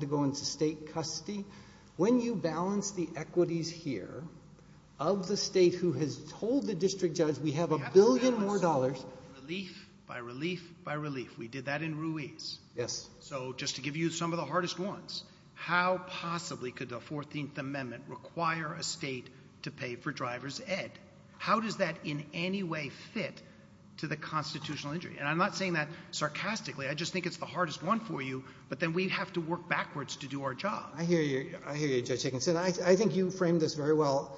to go into state custody. When you balance the equities here, of the state who has told the district judge we have a billion more dollars. Relief by relief by relief. We did that in Ruiz. Yes. So just to give you some of the hardest ones, how possibly could the 14th Amendment require a state to pay for driver's ed? How does that in any way fit to the constitutional injury? And I'm not saying that sarcastically. I just think it's the hardest one for you, but then we'd have to work backwards to do our job. I hear you. I hear you, Judge Higginson. I think you framed this very well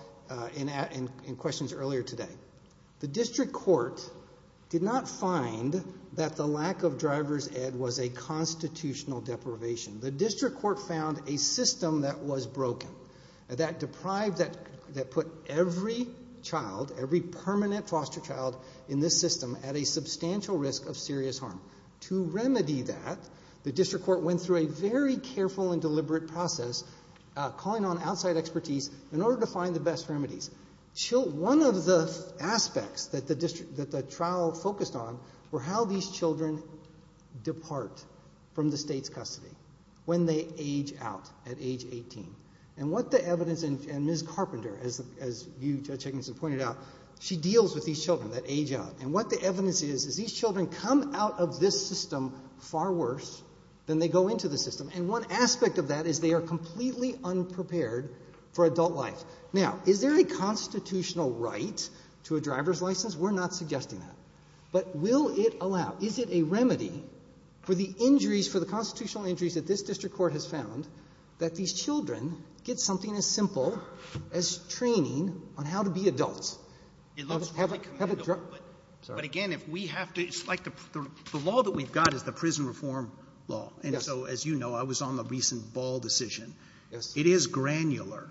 in questions earlier today. The district court did not find that the lack of driver's ed was a constitutional deprivation. The district court found a system that was broken, that deprived, that put every child, every permanent foster child in this system at a substantial risk of serious harm. To remedy that, the district court went through a very careful and deliberate process calling on outside expertise in order to find the best remedies. One of the aspects that the trial focused on were how these children depart from the state's custody when they age out at age 18. And what the evidence, and Ms. Carpenter, as you, Judge Higginson, pointed out, she deals with these children that age out. And what the evidence is, is these children come out of this system far worse than they go into the system. And one aspect of that is they are completely unprepared for adult life. Now, is there a constitutional right to a driver's license? We're not suggesting that. But will it allow, is it a remedy for the injuries, for the constitutional injuries that this district court has found, that these children get something as simple as training on how to be adults? It looks really commendable. But again, if we have to, it's like the law that we've got is the prison reform law. And so, as you know, I was on the recent Ball decision. It is granular.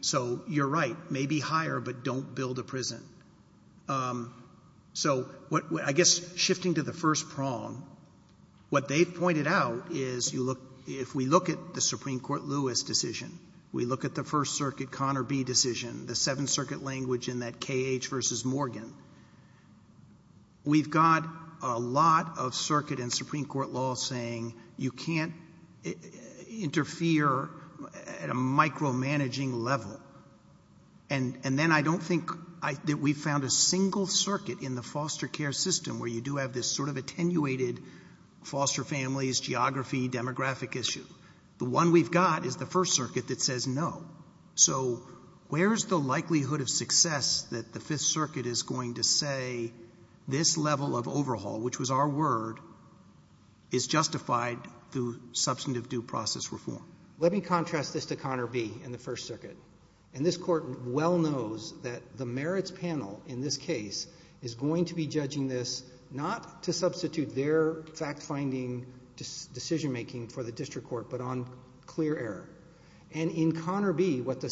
So you're right, maybe higher, but don't build a prison. So I guess shifting to the first prong, what they've pointed out is, if we look at the Supreme Court Lewis decision, we look at the First Circuit Connor B. decision, the Seventh in that K.H. versus Morgan, we've got a lot of circuit in Supreme Court law saying you can't interfere at a micromanaging level. And then I don't think that we've found a single circuit in the foster care system where you do have this sort of attenuated foster families, geography, demographic issue. The one we've got is the First Circuit that says no. So where is the likelihood of success that the Fifth Circuit is going to say this level of overhaul, which was our word, is justified through substantive due process reform? Let me contrast this to Connor B. in the First Circuit. And this court well knows that the merits panel in this case is going to be judging this not to substitute their fact-finding decision-making for the district court, but on clear error. And in Connor B., what the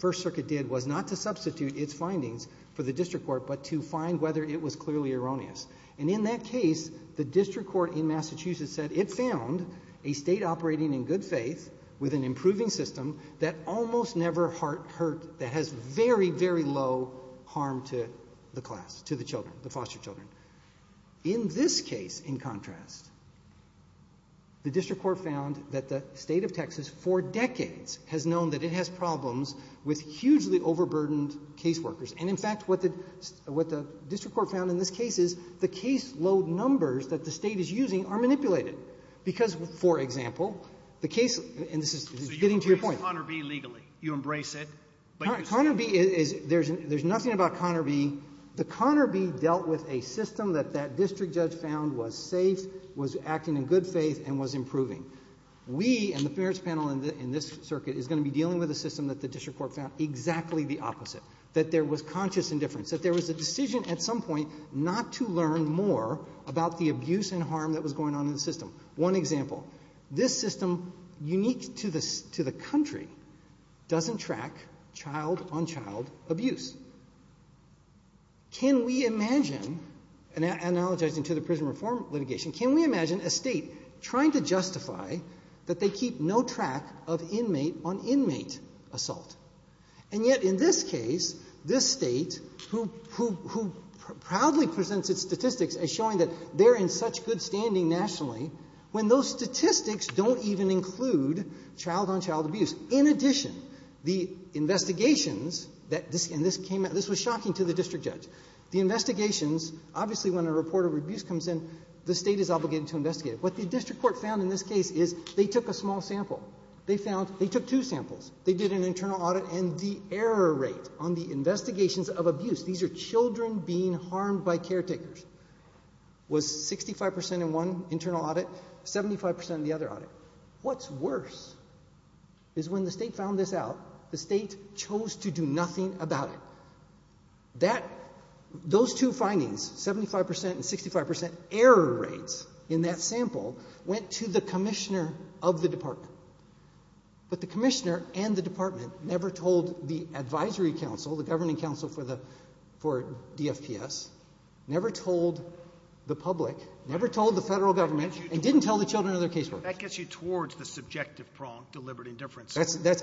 First Circuit did was not to substitute its findings for the district court, but to find whether it was clearly erroneous. And in that case, the district court in Massachusetts said it found a state operating in good faith with an improving system that almost never hurt, that has very, very low harm to the class, to the children, the foster children. In this case, in contrast, the district court found that the State of Texas for decades has known that it has problems with hugely overburdened caseworkers. And in fact, what the district court found in this case is the caseload numbers that the State is using are manipulated. Because, for example, the case and this is getting to your point. So you embrace Connor B. legally. You embrace it, but you say no. Connor B. is, there's nothing about Connor B. The Connor B. dealt with a system that that district judge found was safe, was acting in good faith, and was improving. We and the parents panel in this circuit is going to be dealing with a system that the district court found exactly the opposite, that there was conscious indifference, that there was a decision at some point not to learn more about the abuse and harm that was going on in the system. One example. This system, unique to the country, doesn't track child-on-child abuse. Can we imagine, and I apologize to the prison reform litigation, can we imagine a state trying to justify that they keep no track of inmate-on-inmate assault? And yet, in this case, this state, who proudly presents its statistics as showing that they're in such good standing nationally, when those statistics don't even include child-on-child abuse. In addition, the investigations that, and this came out, this was shocking to the district judge. The investigations, obviously when a report of abuse comes in, the state is obligated to investigate it. What the district court found in this case is they took a small sample. They found, they took two samples. They did an internal audit, and the error rate on the investigations of abuse, these are children being harmed by caretakers, was 65% in one internal audit, 75% in the other audit. What's worse is when the state found this out, the state chose to do nothing about it. Those two findings, 75% and 65% error rates in that sample, went to the commissioner of the department. But the commissioner and the department never told the advisory council, the governing council for the, for DFPS, never told the public, never told the federal government, and didn't tell the children of their casework. That gets you towards the subjective prong, deliberate indifference. That's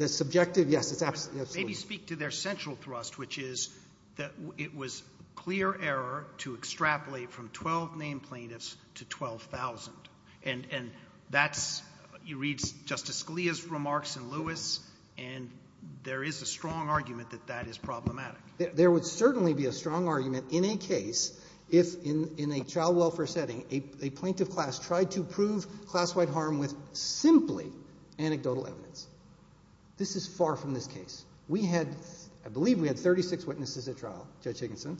subjective, yes, it's absolutely. Maybe speak to their central thrust, which is that it was clear error to extrapolate from 12 named plaintiffs to 12,000. And that's, you read Justice Scalia's remarks and Lewis, and there is a strong argument that that is problematic. There would certainly be a strong argument in a case if, in a child welfare setting, a plaintiff class tried to prove class-wide harm with simply anecdotal evidence. This is far from this case. We had, I believe we had 36 witnesses at trial, Judge Higginson.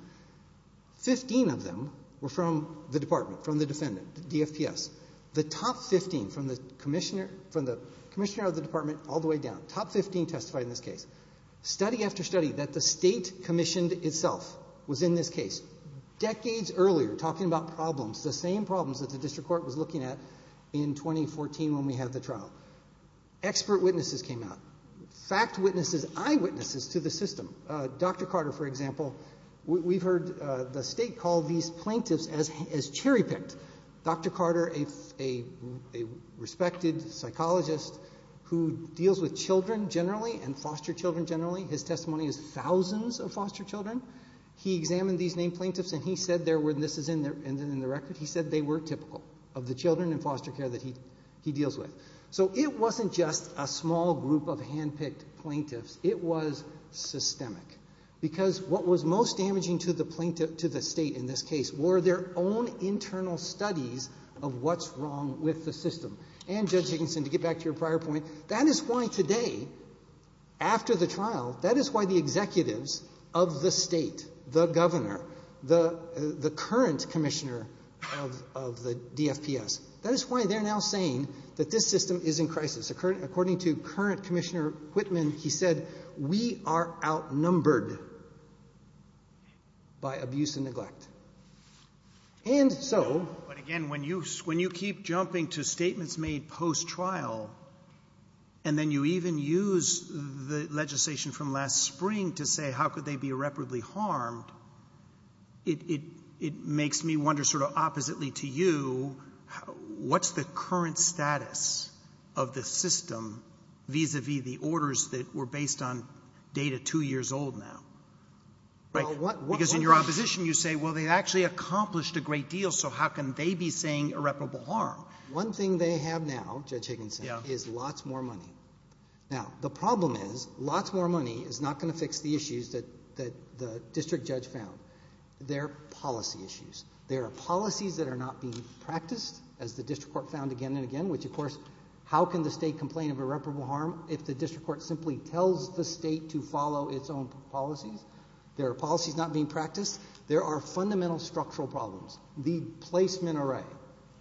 Fifteen of them were from the department, from the defendant, the DFPS. The top 15 from the commissioner, from the commissioner of the department all the way down, top 15 testified in this case. Study after study that the state commissioned itself was in this case. Decades earlier, talking about problems, the same problems that the district court was looking at in 2014 when we had the trial. Expert witnesses came out. Fact witnesses, eyewitnesses to the system. Dr. Carter, for example, we've heard the state call these plaintiffs as cherry-picked. Dr. Carter, a respected psychologist who deals with children generally and foster children generally, his testimony is thousands of foster children, he examined these named plaintiffs and he said there were, and this is in the record, he said they were typical of the children in foster care that he deals with. So it wasn't just a small group of hand-picked plaintiffs. It was systemic. Because what was most damaging to the plaintiff, to the state in this case, were their own internal studies of what's wrong with the system. And Judge Higginson, to get back to your prior point, that is why today, after the trial, that is why the executives of the state, the governor, the current commissioner of the DFPS, that is why they're now saying that this system is in crisis. According to current Commissioner Whitman, he said, we are outnumbered by abuse and neglect. And so- But again, when you keep jumping to statements made post-trial and then you even use the legislation from last spring to say how could they be irreparably harmed, it makes me wonder sort of oppositely to you, what's the current status of the system, vis-a-vis the orders that were based on data two years old now? Because in your opposition, you say, well, they actually accomplished a great deal, so how can they be saying irreparable harm? One thing they have now, Judge Higginson, is lots more money. Now, the problem is, lots more money is not gonna fix the issues that the district judge found. They're policy issues. There are policies that are not being practiced, as the district court found again and again, which of course, how can the state complain of irreparable harm if the district court simply tells the state to follow its own policies? There are policies not being practiced. There are fundamental structural problems. The placement array,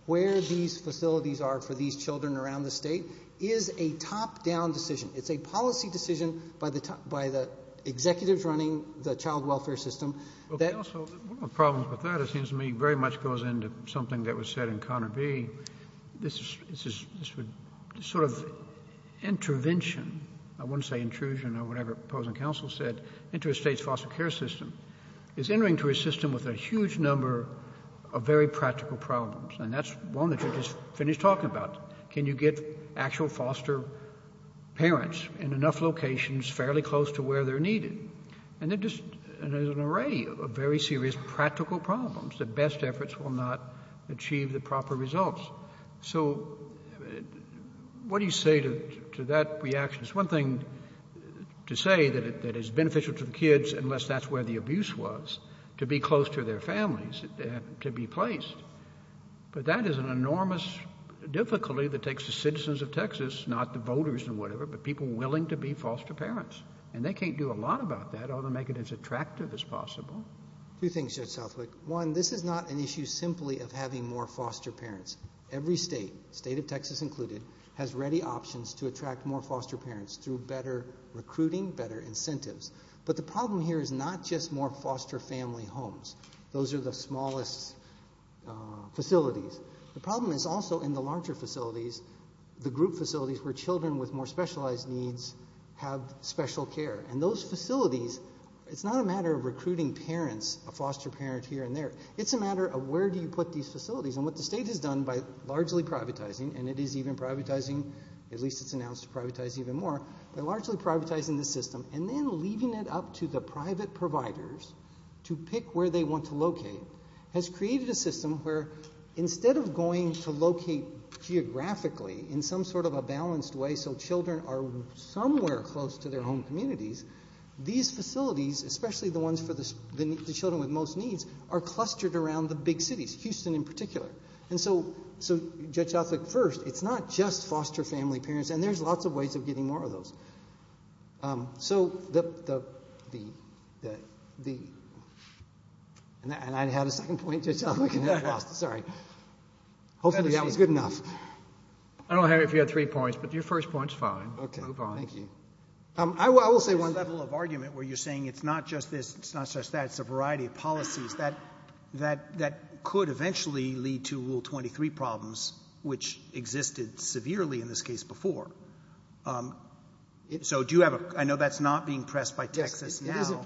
where these facilities are for these children around the state, is a top-down decision. It's a policy decision by the executives running the child welfare system that- Also, one of the problems with that, it seems to me, very much goes into something that was said in Connor B. This sort of intervention, I wouldn't say intrusion or whatever opposing counsel said, into a state's foster care system. It's entering to a system with a huge number of very practical problems, and that's one that you just finished talking about. Can you get actual foster parents in enough locations, fairly close to where they're needed? And there's an array of very serious practical problems. The best efforts will not achieve the proper results. So what do you say to that reaction? It's one thing to say that it's beneficial to the kids, unless that's where the abuse was, to be close to their families and to be placed. But that is an enormous difficulty that takes the citizens of Texas, not the voters and whatever, but people willing to be foster parents. And they can't do a lot about that other than make it as attractive as possible. Two things, Judge Southwick. One, this is not an issue simply of having more foster parents. Every state, state of Texas included, has ready options to attract more foster parents through better recruiting, better incentives. But the problem here is not just more foster family homes. Those are the smallest facilities. The problem is also in the larger facilities, the group facilities where children with more specialized needs have special care. And those facilities, it's not a matter of recruiting parents, a foster parent here and there. It's a matter of where do you put these facilities? And what the state has done by largely privatizing, and it is even privatizing, at least it's announced to privatize even more, by largely privatizing the system. And then leaving it up to the private providers to pick where they want to locate has created a system where instead of going to locate geographically in some sort of a balanced way so children are somewhere close to their home communities, these facilities, especially the ones for the children with most needs, are clustered around the big cities, Houston in particular. And so, Judge Southwick, first, it's not just foster family parents, and there's lots of ways of getting more of those. So the, and I had a second point, Judge Southwick, and then I lost it, sorry. Hopefully that was good enough. I don't know, Harry, if you had three points, but your first point's fine. Okay, thank you. I will say one level of argument where you're saying it's not just this, it's not just that, it's a variety of policies that could eventually lead to Rule 23 problems, which existed severely in this case before. So do you have a, I know that's not being pressed by Texas now.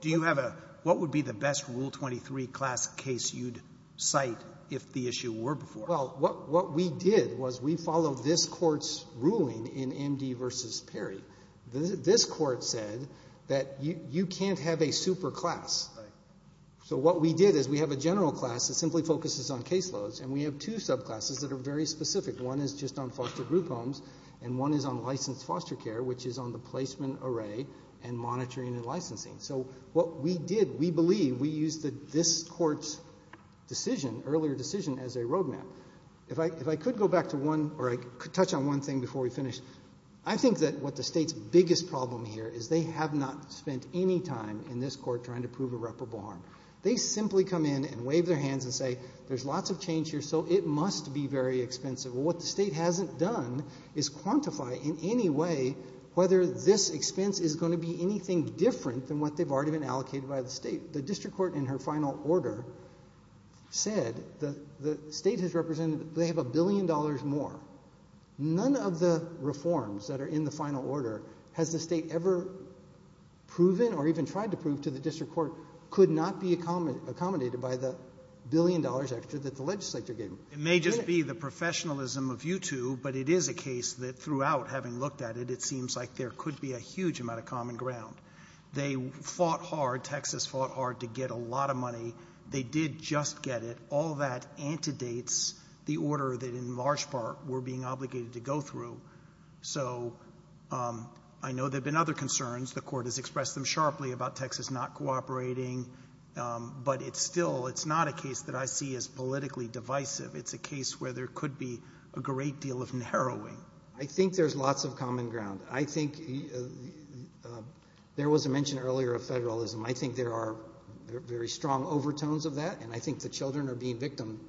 Do you have a, what would be the best Rule 23 class case you'd cite if the issue were before? Well, what we did was we followed this court's ruling in MD versus Perry. This court said that you can't have a super class. So what we did is we have a general class that simply focuses on caseloads, and we have two subclasses that are very specific. One is just on foster group homes, and one is on licensed foster care, which is on the placement array and monitoring and licensing. So what we did, we believe, we used this court's decision, earlier decision, as a roadmap. If I could go back to one, or I could touch on one thing before we finish. I think that what the state's biggest problem here is they have not spent any time in this court trying to prove irreparable harm. They simply come in and wave their hands and say, there's lots of change here, so it must be very expensive. Well, what the state hasn't done is quantify in any way whether this expense is going to be anything different than what they've already been allocated by the state. The district court, in her final order, said that the state has represented they have a billion dollars more. None of the reforms that are in the final order has the state ever proven or even tried to prove to the district court could not be accommodated by the billion dollars extra that the legislature gave them. It may just be the professionalism of you two, but it is a case that throughout, having looked at it, it seems like there could be a huge amount of common ground. They fought hard, Texas fought hard to get a lot of money. They did just get it. All that antedates the order that, in large part, we're being obligated to go through. So I know there have been other concerns. The court has expressed them sharply about Texas not cooperating. But it's still, it's not a case that I see as politically divisive. It's a case where there could be a great deal of narrowing. I think there's lots of common ground. I think there was a mention earlier of federalism. I think there are very strong overtones of that, and I think the children are being victim,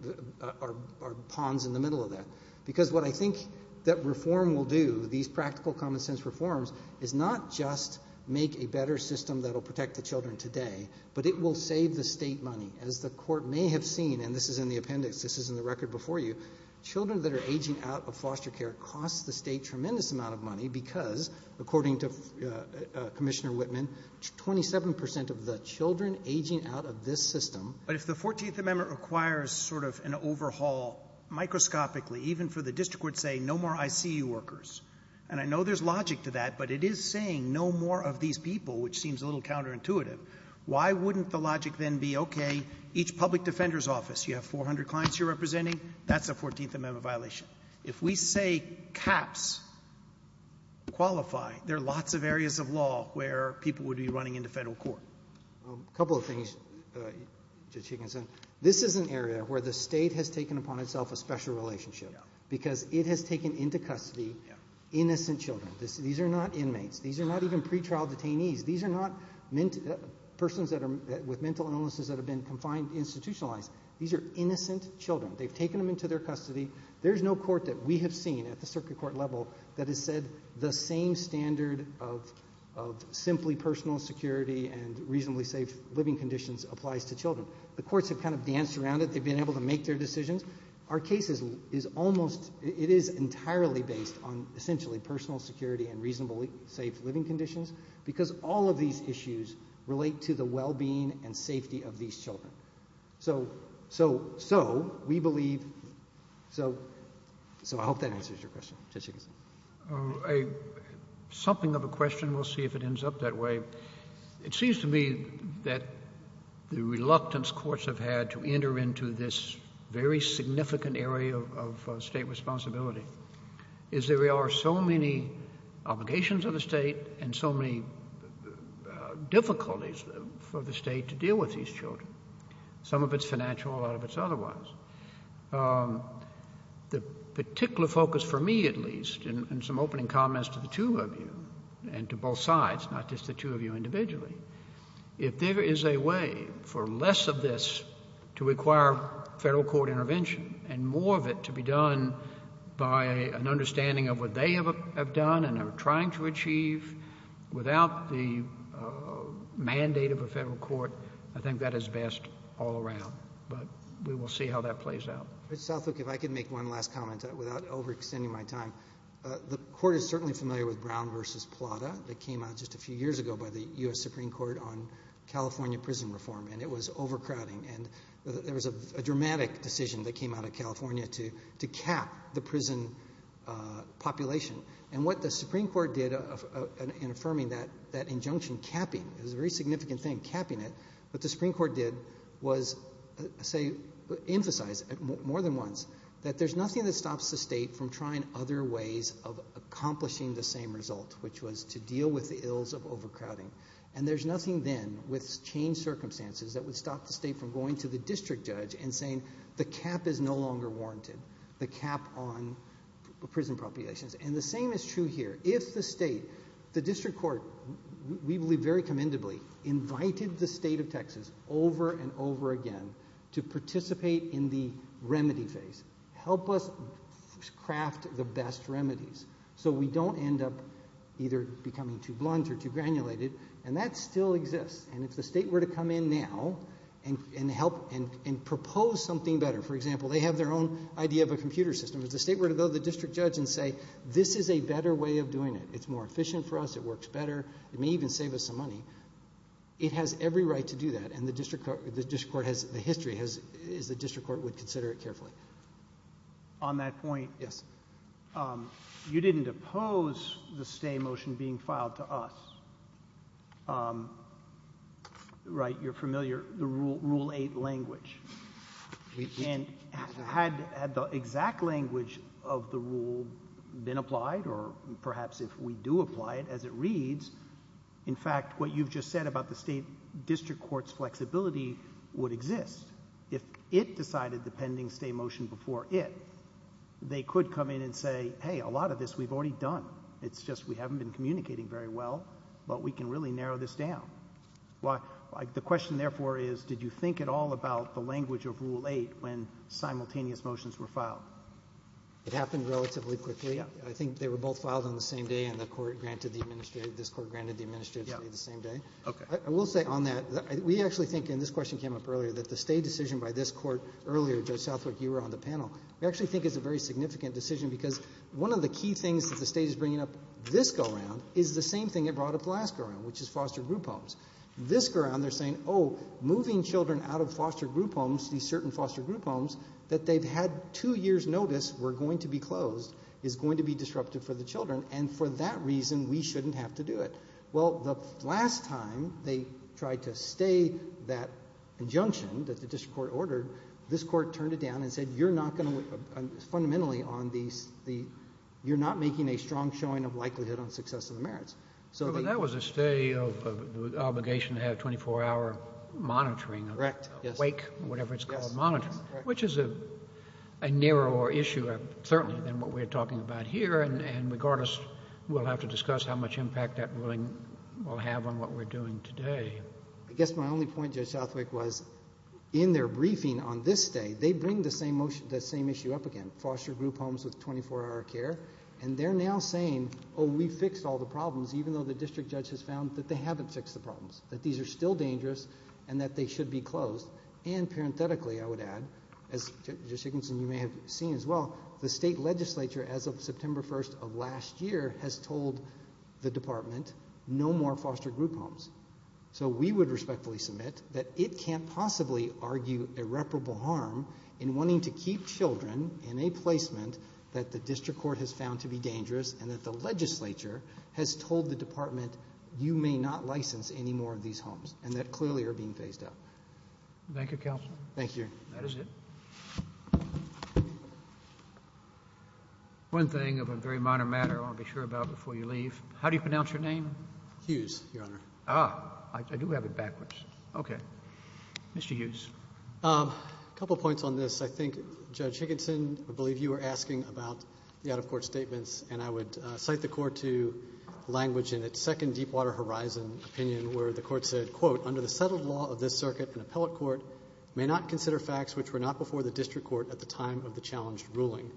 are pawns in the middle of that. Because what I think that reform will do, these practical common sense reforms, is not just make a better system that will protect the children today, but it will save the state money. As the court may have seen, and this is in the appendix, this is in the record before you, children that are aging out of foster care cost the state tremendous amount of money because, according to Commissioner Whitman, 27% of the children aging out of this system. But if the 14th Amendment requires sort of an overhaul, microscopically, even for the district court, say no more ICU workers. And I know there's logic to that, but it is saying no more of these people, which seems a little counterintuitive. You have 400 clients you're representing, that's a 14th Amendment violation. If we say caps qualify, there are lots of areas of law where people would be running into federal court. A couple of things, Judge Higginson. This is an area where the state has taken upon itself a special relationship. Because it has taken into custody innocent children. These are not inmates. These are not even pretrial detainees. These are not persons with mental illnesses that have been confined, institutionalized. These are innocent children. They've taken them into their custody. There's no court that we have seen at the circuit court level that has said the same standard of simply personal security and reasonably safe living conditions applies to children. The courts have kind of danced around it. They've been able to make their decisions. Our case is almost, it is entirely based on essentially personal security and reasonably safe living conditions. Because all of these issues relate to the well-being and safety of these children. So, so, so, we believe, so, so I hope that answers your question, Judge Higginson. A, something of a question, we'll see if it ends up that way. It seems to me that the reluctance courts have had to enter into this very significant area of, of state responsibility. Is there are so many obligations of the state and so many difficulties for the state to deal with these children. Some of it's financial, a lot of it's otherwise. The particular focus for me at least, and some opening comments to the two of you, and to both sides, not just the two of you individually. If there is a way for less of this to require federal court intervention and more of it to be done by an understanding of what they have, have done and are trying to achieve without the mandate of a federal court. I think that is best all around, but we will see how that plays out. Judge Southwook, if I could make one last comment without overextending my time. The court is certainly familiar with Brown versus Plata that came out just a few years ago by the U.S. Supreme Court on California prison reform, and it was overcrowding, and there was a dramatic decision that came out of California to, to cap the prison population. And what the Supreme Court did in affirming that, that injunction, capping, it was a very significant thing, capping it. What the Supreme Court did was say, emphasize more than once, that there's nothing that stops the state from trying other ways of accomplishing the same result, which was to deal with the ills of overcrowding. And there's nothing then with changed circumstances that would stop the state from going to the district judge and saying the cap is no longer warranted. The cap on prison populations, and the same is true here. If the state, the district court, we believe very commendably, invited the state of Texas over and over again to participate in the remedy phase. Help us craft the best remedies so we don't end up either becoming too blunt or too granulated, and that still exists. And if the state were to come in now and, and help and, and propose something better. For example, they have their own idea of a computer system. If the state were to go to the district judge and say, this is a better way of doing it. It's more efficient for us. It works better. It may even save us some money. It has every right to do that. And the district court, the district court has, the history has, is the district court would consider it carefully. On that point. Yes. You didn't oppose the stay motion being filed to us. Right, you're familiar, the rule, rule eight language. And had, had the exact language of the rule been applied or perhaps if we do apply it as it reads. In fact, what you've just said about the state district court's flexibility would exist. If it decided the pending stay motion before it. They could come in and say, hey, a lot of this we've already done. It's just we haven't been communicating very well. But we can really narrow this down. Why, the question therefore is, did you think at all about the language of rule eight when simultaneous motions were filed? It happened relatively quickly. I think they were both filed on the same day and the court granted the administrative, this court granted the administrative stay the same day. Okay. I will say on that, we actually think, and this question came up earlier, that the stay decision by this court earlier, Judge Southwick, you were on the panel. We actually think it's a very significant decision because one of the key things that the state is bringing up this go round is the same thing it brought up last go round, which is foster group homes. This go round, they're saying, moving children out of foster group homes, these certain foster group homes, that they've had two years notice were going to be closed, is going to be disruptive for the children, and for that reason, we shouldn't have to do it. Well, the last time they tried to stay that injunction that the district court ordered, this court turned it down and said, you're not going to, fundamentally, on the, you're not making a strong showing of likelihood on success of the merits. So that was a stay of obligation to have 24-hour monitoring, awake, whatever it's called, monitoring, which is a narrower issue, certainly, than what we're talking about here, and regardless, we'll have to discuss how much impact that ruling will have on what we're doing today. I guess my only point, Judge Southwick, was in their briefing on this stay, they bring the same issue up again, foster group homes with 24-hour care, and they're now saying, oh, we fixed all the problems, even though the district judge has found that they haven't fixed the problems, that these are still dangerous, and that they should be closed, and parenthetically, I would add, as Judge Higginson, you may have seen as well, the state legislature, as of September 1st of last year, has told the department, no more foster group homes. So we would respectfully submit that it can't possibly argue irreparable harm in wanting to keep children in a placement that the district court has found to be dangerous, and that the legislature has told the department, you may not license any more of these homes, and that clearly are being phased out. Thank you, counsel. Thank you. That is it. One thing of a very minor matter I want to be sure about before you leave, how do you pronounce your name? Hughes, Your Honor. Ah, I do have it backwards. Okay. Mr. Hughes. A couple points on this. I think Judge Higginson, I believe you were asking about the out-of-court statements, and I would cite the court to language in its second Deepwater Horizon opinion, where the court said, quote, under the settled law of this circuit, an appellate court may not consider facts which were not before the district court at the time of the challenged ruling.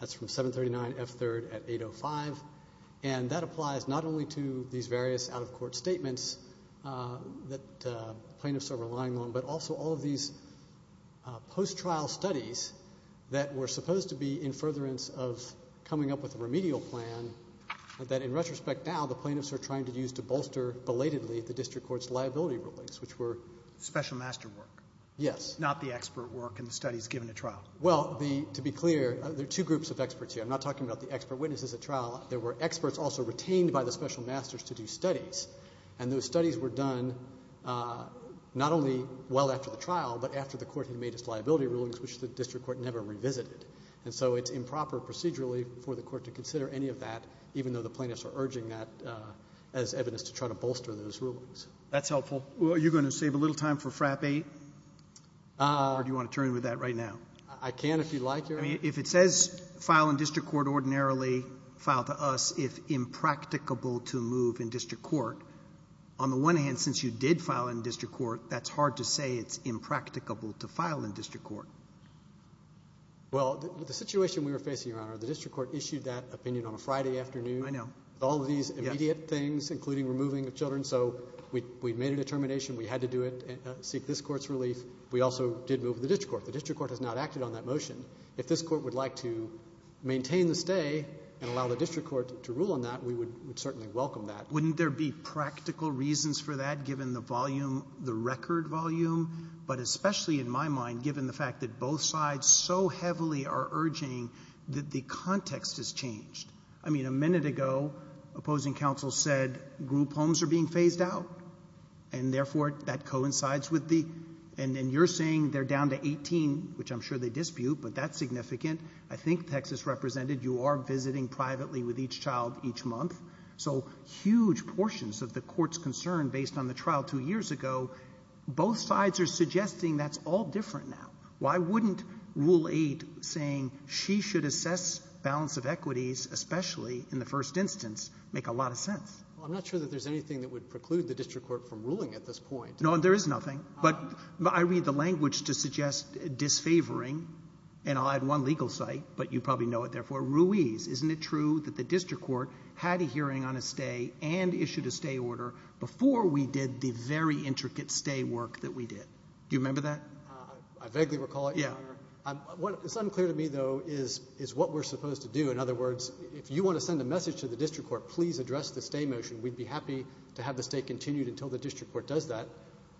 That's from 739F3 at 805, and that applies not only to these various out-of-court statements that plaintiffs are relying on, but also all of these post-trial studies that were supposed to be in furtherance of coming up with a remedial plan, that in retrospect now, the plaintiffs are trying to use to bolster belatedly the district court's liability rulings, which were? Special master work. Yes. Not the expert work in the studies given at trial. Well, to be clear, there are two groups of experts here. I'm not talking about the expert witnesses at trial. There were experts also retained by the special masters to do studies, and those studies were done not only well after the trial, but after the court had made its liability rulings, which the district court never revisited. And so it's improper procedurally for the court to consider any of that, even though the plaintiffs are urging that as evidence to try to bolster those rulings. That's helpful. Well, are you going to save a little time for FRAP 8, or do you want to turn with that right now? I can if you like, Your Honor. If it says, file in district court ordinarily, file to us if impracticable to move in district court, on the one hand, since you did file in district court, that's hard to say it's impracticable to file in district court. Well, the situation we were facing, Your Honor, the district court issued that opinion on a Friday afternoon. I know. All of these immediate things, including removing the children, so we made a determination. We had to do it, seek this court's relief. We also did move the district court. The district court has not acted on that motion. If this court would like to maintain the stay and allow the district court to rule on that, we would certainly welcome that. Wouldn't there be practical reasons for that, given the volume, the record volume? But especially in my mind, given the fact that both sides so heavily are urging that the context has changed. I mean, a minute ago, opposing counsel said group homes are being phased out, and therefore, that coincides with the — and you're saying they're down to 18, which I'm sure they dispute, but that's significant. I think, Texas Represented, you are visiting privately with each child each month. So huge portions of the court's concern, based on the trial two years ago, both sides are suggesting that's all different now. Why wouldn't Rule 8 saying she should assess balance of equities, especially in the first instance, make a lot of sense? Well, I'm not sure that there's anything that would preclude the district court from ruling at this point. No, and there is nothing. But I read the language to suggest disfavoring, and I'll add one legal site, but you probably know it, therefore. Ruiz, isn't it true that the district court had a hearing on a stay and issued a stay order before we did the very intricate stay work that we did? Do you remember that? I vaguely recall it, Your Honor. Yeah. What is unclear to me, though, is what we're supposed to do. In other words, if you want to send a message to the district court, please address the stay motion. We'd be happy to have the stay continued until the district court does that.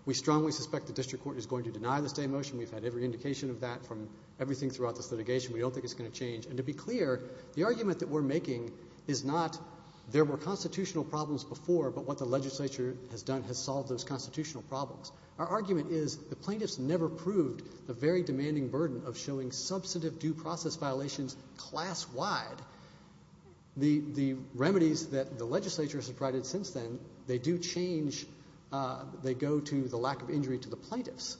We strongly suspect the district court is going to deny the stay motion. We've had every indication of that from everything throughout this litigation. We don't think it's going to change. And to be clear, the argument that we're making is not there were constitutional problems before, but what the legislature has done has solved those constitutional problems. Our argument is the plaintiffs never proved the very demanding burden of showing substantive due process violations class-wide. The remedies that the legislature has provided since then, they do change, they go to the lack of injury to the plaintiffs,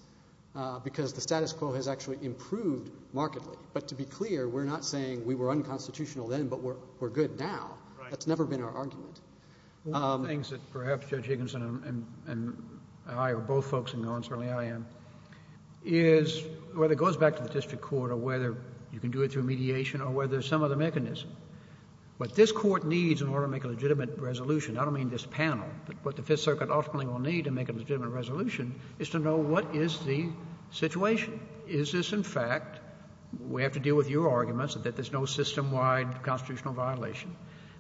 because the status quo has actually improved markedly. But to be clear, we're not saying we were unconstitutional then, but we're good now. That's never been our argument. One of the things that perhaps Judge Higginson and I, or both folks in the audience, certainly I am, is whether it goes back to the district court or whether you can do it through mediation or whether some other mechanism. What this court needs in order to make a legitimate resolution, I don't mean this panel, but what the Fifth Circuit ultimately will need to make a legitimate resolution is to know what is the situation. Is this, in fact, we have to deal with your arguments that there's no system-wide constitutional violation.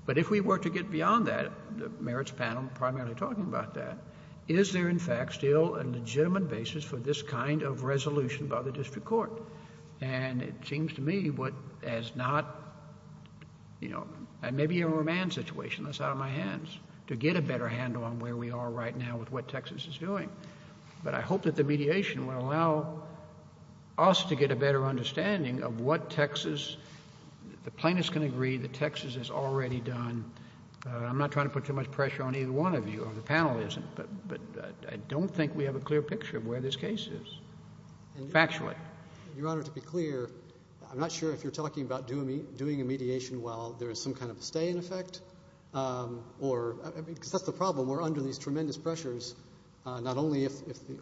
But if we were to get beyond that, the merits panel primarily talking about that, is there, in fact, still a legitimate basis for this kind of resolution by the district court? And it seems to me what has not, you know, maybe a romance situation that's out of my hands to get a better handle on where we are right now with what Texas is doing. But I hope that the mediation will allow us to get a better understanding of what Texas, the plaintiffs can agree that Texas has already done. I'm not trying to put too much pressure on either one of you, or the panel isn't, but I don't think we have a clear picture of where this case is, factually. Your Honor, to be clear, I'm not sure if you're talking about doing a mediation while there is some kind of stay in effect, or, because that's the problem. We're under these tremendous pressures, not only if,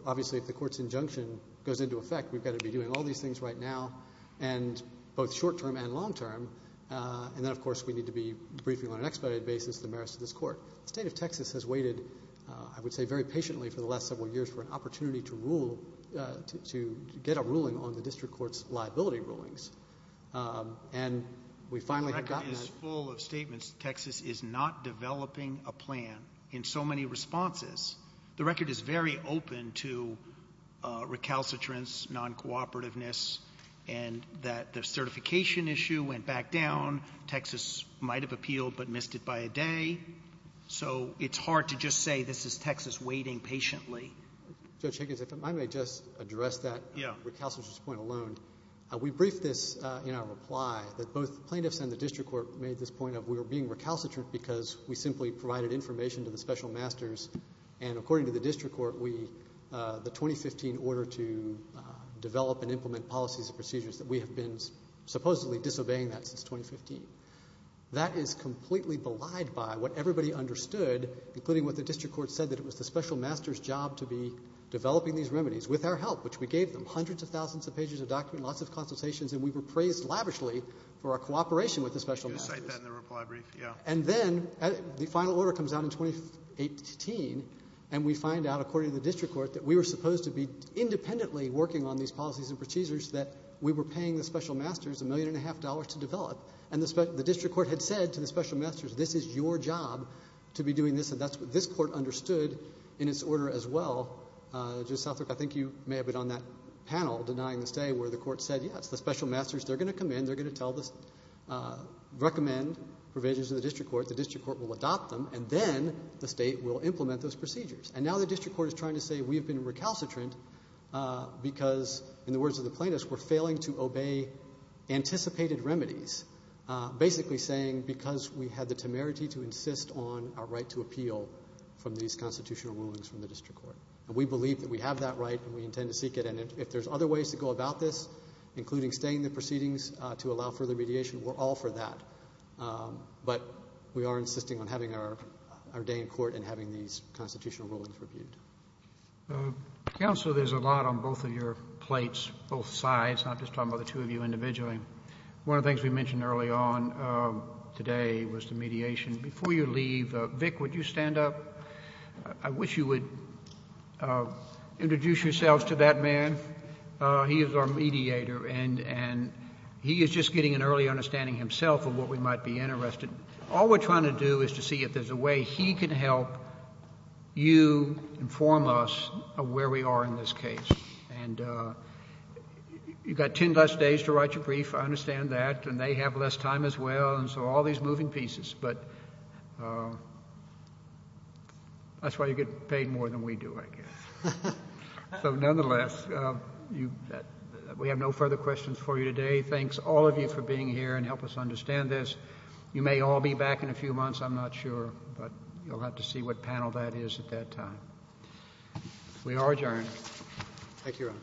obviously, if the court's injunction goes into effect, we've got to be doing all these things right now, and both short-term and long-term. And then, of course, we need to be briefing on an expedited basis the merits of this court. The state of Texas has waited, I would say, very patiently for the last several years for an opportunity to rule, to get a ruling on the district court's liability rulings. And we finally have gotten that. The record is full of statements that Texas is not developing a plan in so many responses. The record is very open to recalcitrance, non-cooperativeness, and that the certification issue went back down. Texas might have appealed, but missed it by a day. So it's hard to just say this is Texas waiting patiently. Judge Higgins, if I may just address that recalcitrance point alone. We briefed this in our reply, that both plaintiffs and the district court made this point of we were being recalcitrant because we simply provided information to the special masters. And according to the district court, we, the 2015 order to develop and implement policies and procedures, that we have been supposedly disobeying that since 2015. That is completely belied by what everybody understood, including what the district court said, that it was the special master's job to be developing these remedies with our help, which we gave them. Hundreds of thousands of pages of documents, lots of consultations, and we were praised lavishly for our cooperation with the special masters. You can cite that in the reply brief, yeah. And then, the final order comes out in 2018, and we find out, according to the district court, that we were supposed to be independently working on these policies and procedures, that we were paying the special masters a million and a half dollars to develop. And the district court had said to the special masters, this is your job to be doing this, and that's what this court understood in its order as well. Judge Southwick, I think you may have been on that panel, denying the stay, where the court said, yeah, it's the special masters. They're going to come in, they're going to tell the, recommend provisions of the district court, the district court will adopt them, and then the state will implement those procedures. And now the district court is trying to say, we have been recalcitrant because, in the words of the plaintiffs, we're failing to obey anticipated remedies. Basically saying, because we had the temerity to insist on our right to appeal from these constitutional rulings from the district court. And we believe that we have that right, and we intend to seek it, and if there's other ways to go about this, including staying in the proceedings to allow further mediation, we're all for that. But we are insisting on having our day in court and having these constitutional rulings reviewed. Counsel, there's a lot on both of your plates, both sides, not just talking about the two of you individually. One of the things we mentioned early on today was the mediation. Before you leave, Vic, would you stand up? I wish you would introduce yourselves to that man. He is our mediator, and he is just getting an early understanding himself of what we might be interested in. All we're trying to do is to see if there's a way he can help you inform us of where we are in this case. And you've got 10 less days to write your brief, I understand that, and they have less time as well, and so all these moving pieces. But that's why you get paid more than we do, I guess. So nonetheless, we have no further questions for you today. Thanks, all of you, for being here and help us understand this. You may all be back in a few months, I'm not sure, but you'll have to see what panel that is at that time. Thank you, Your Honor.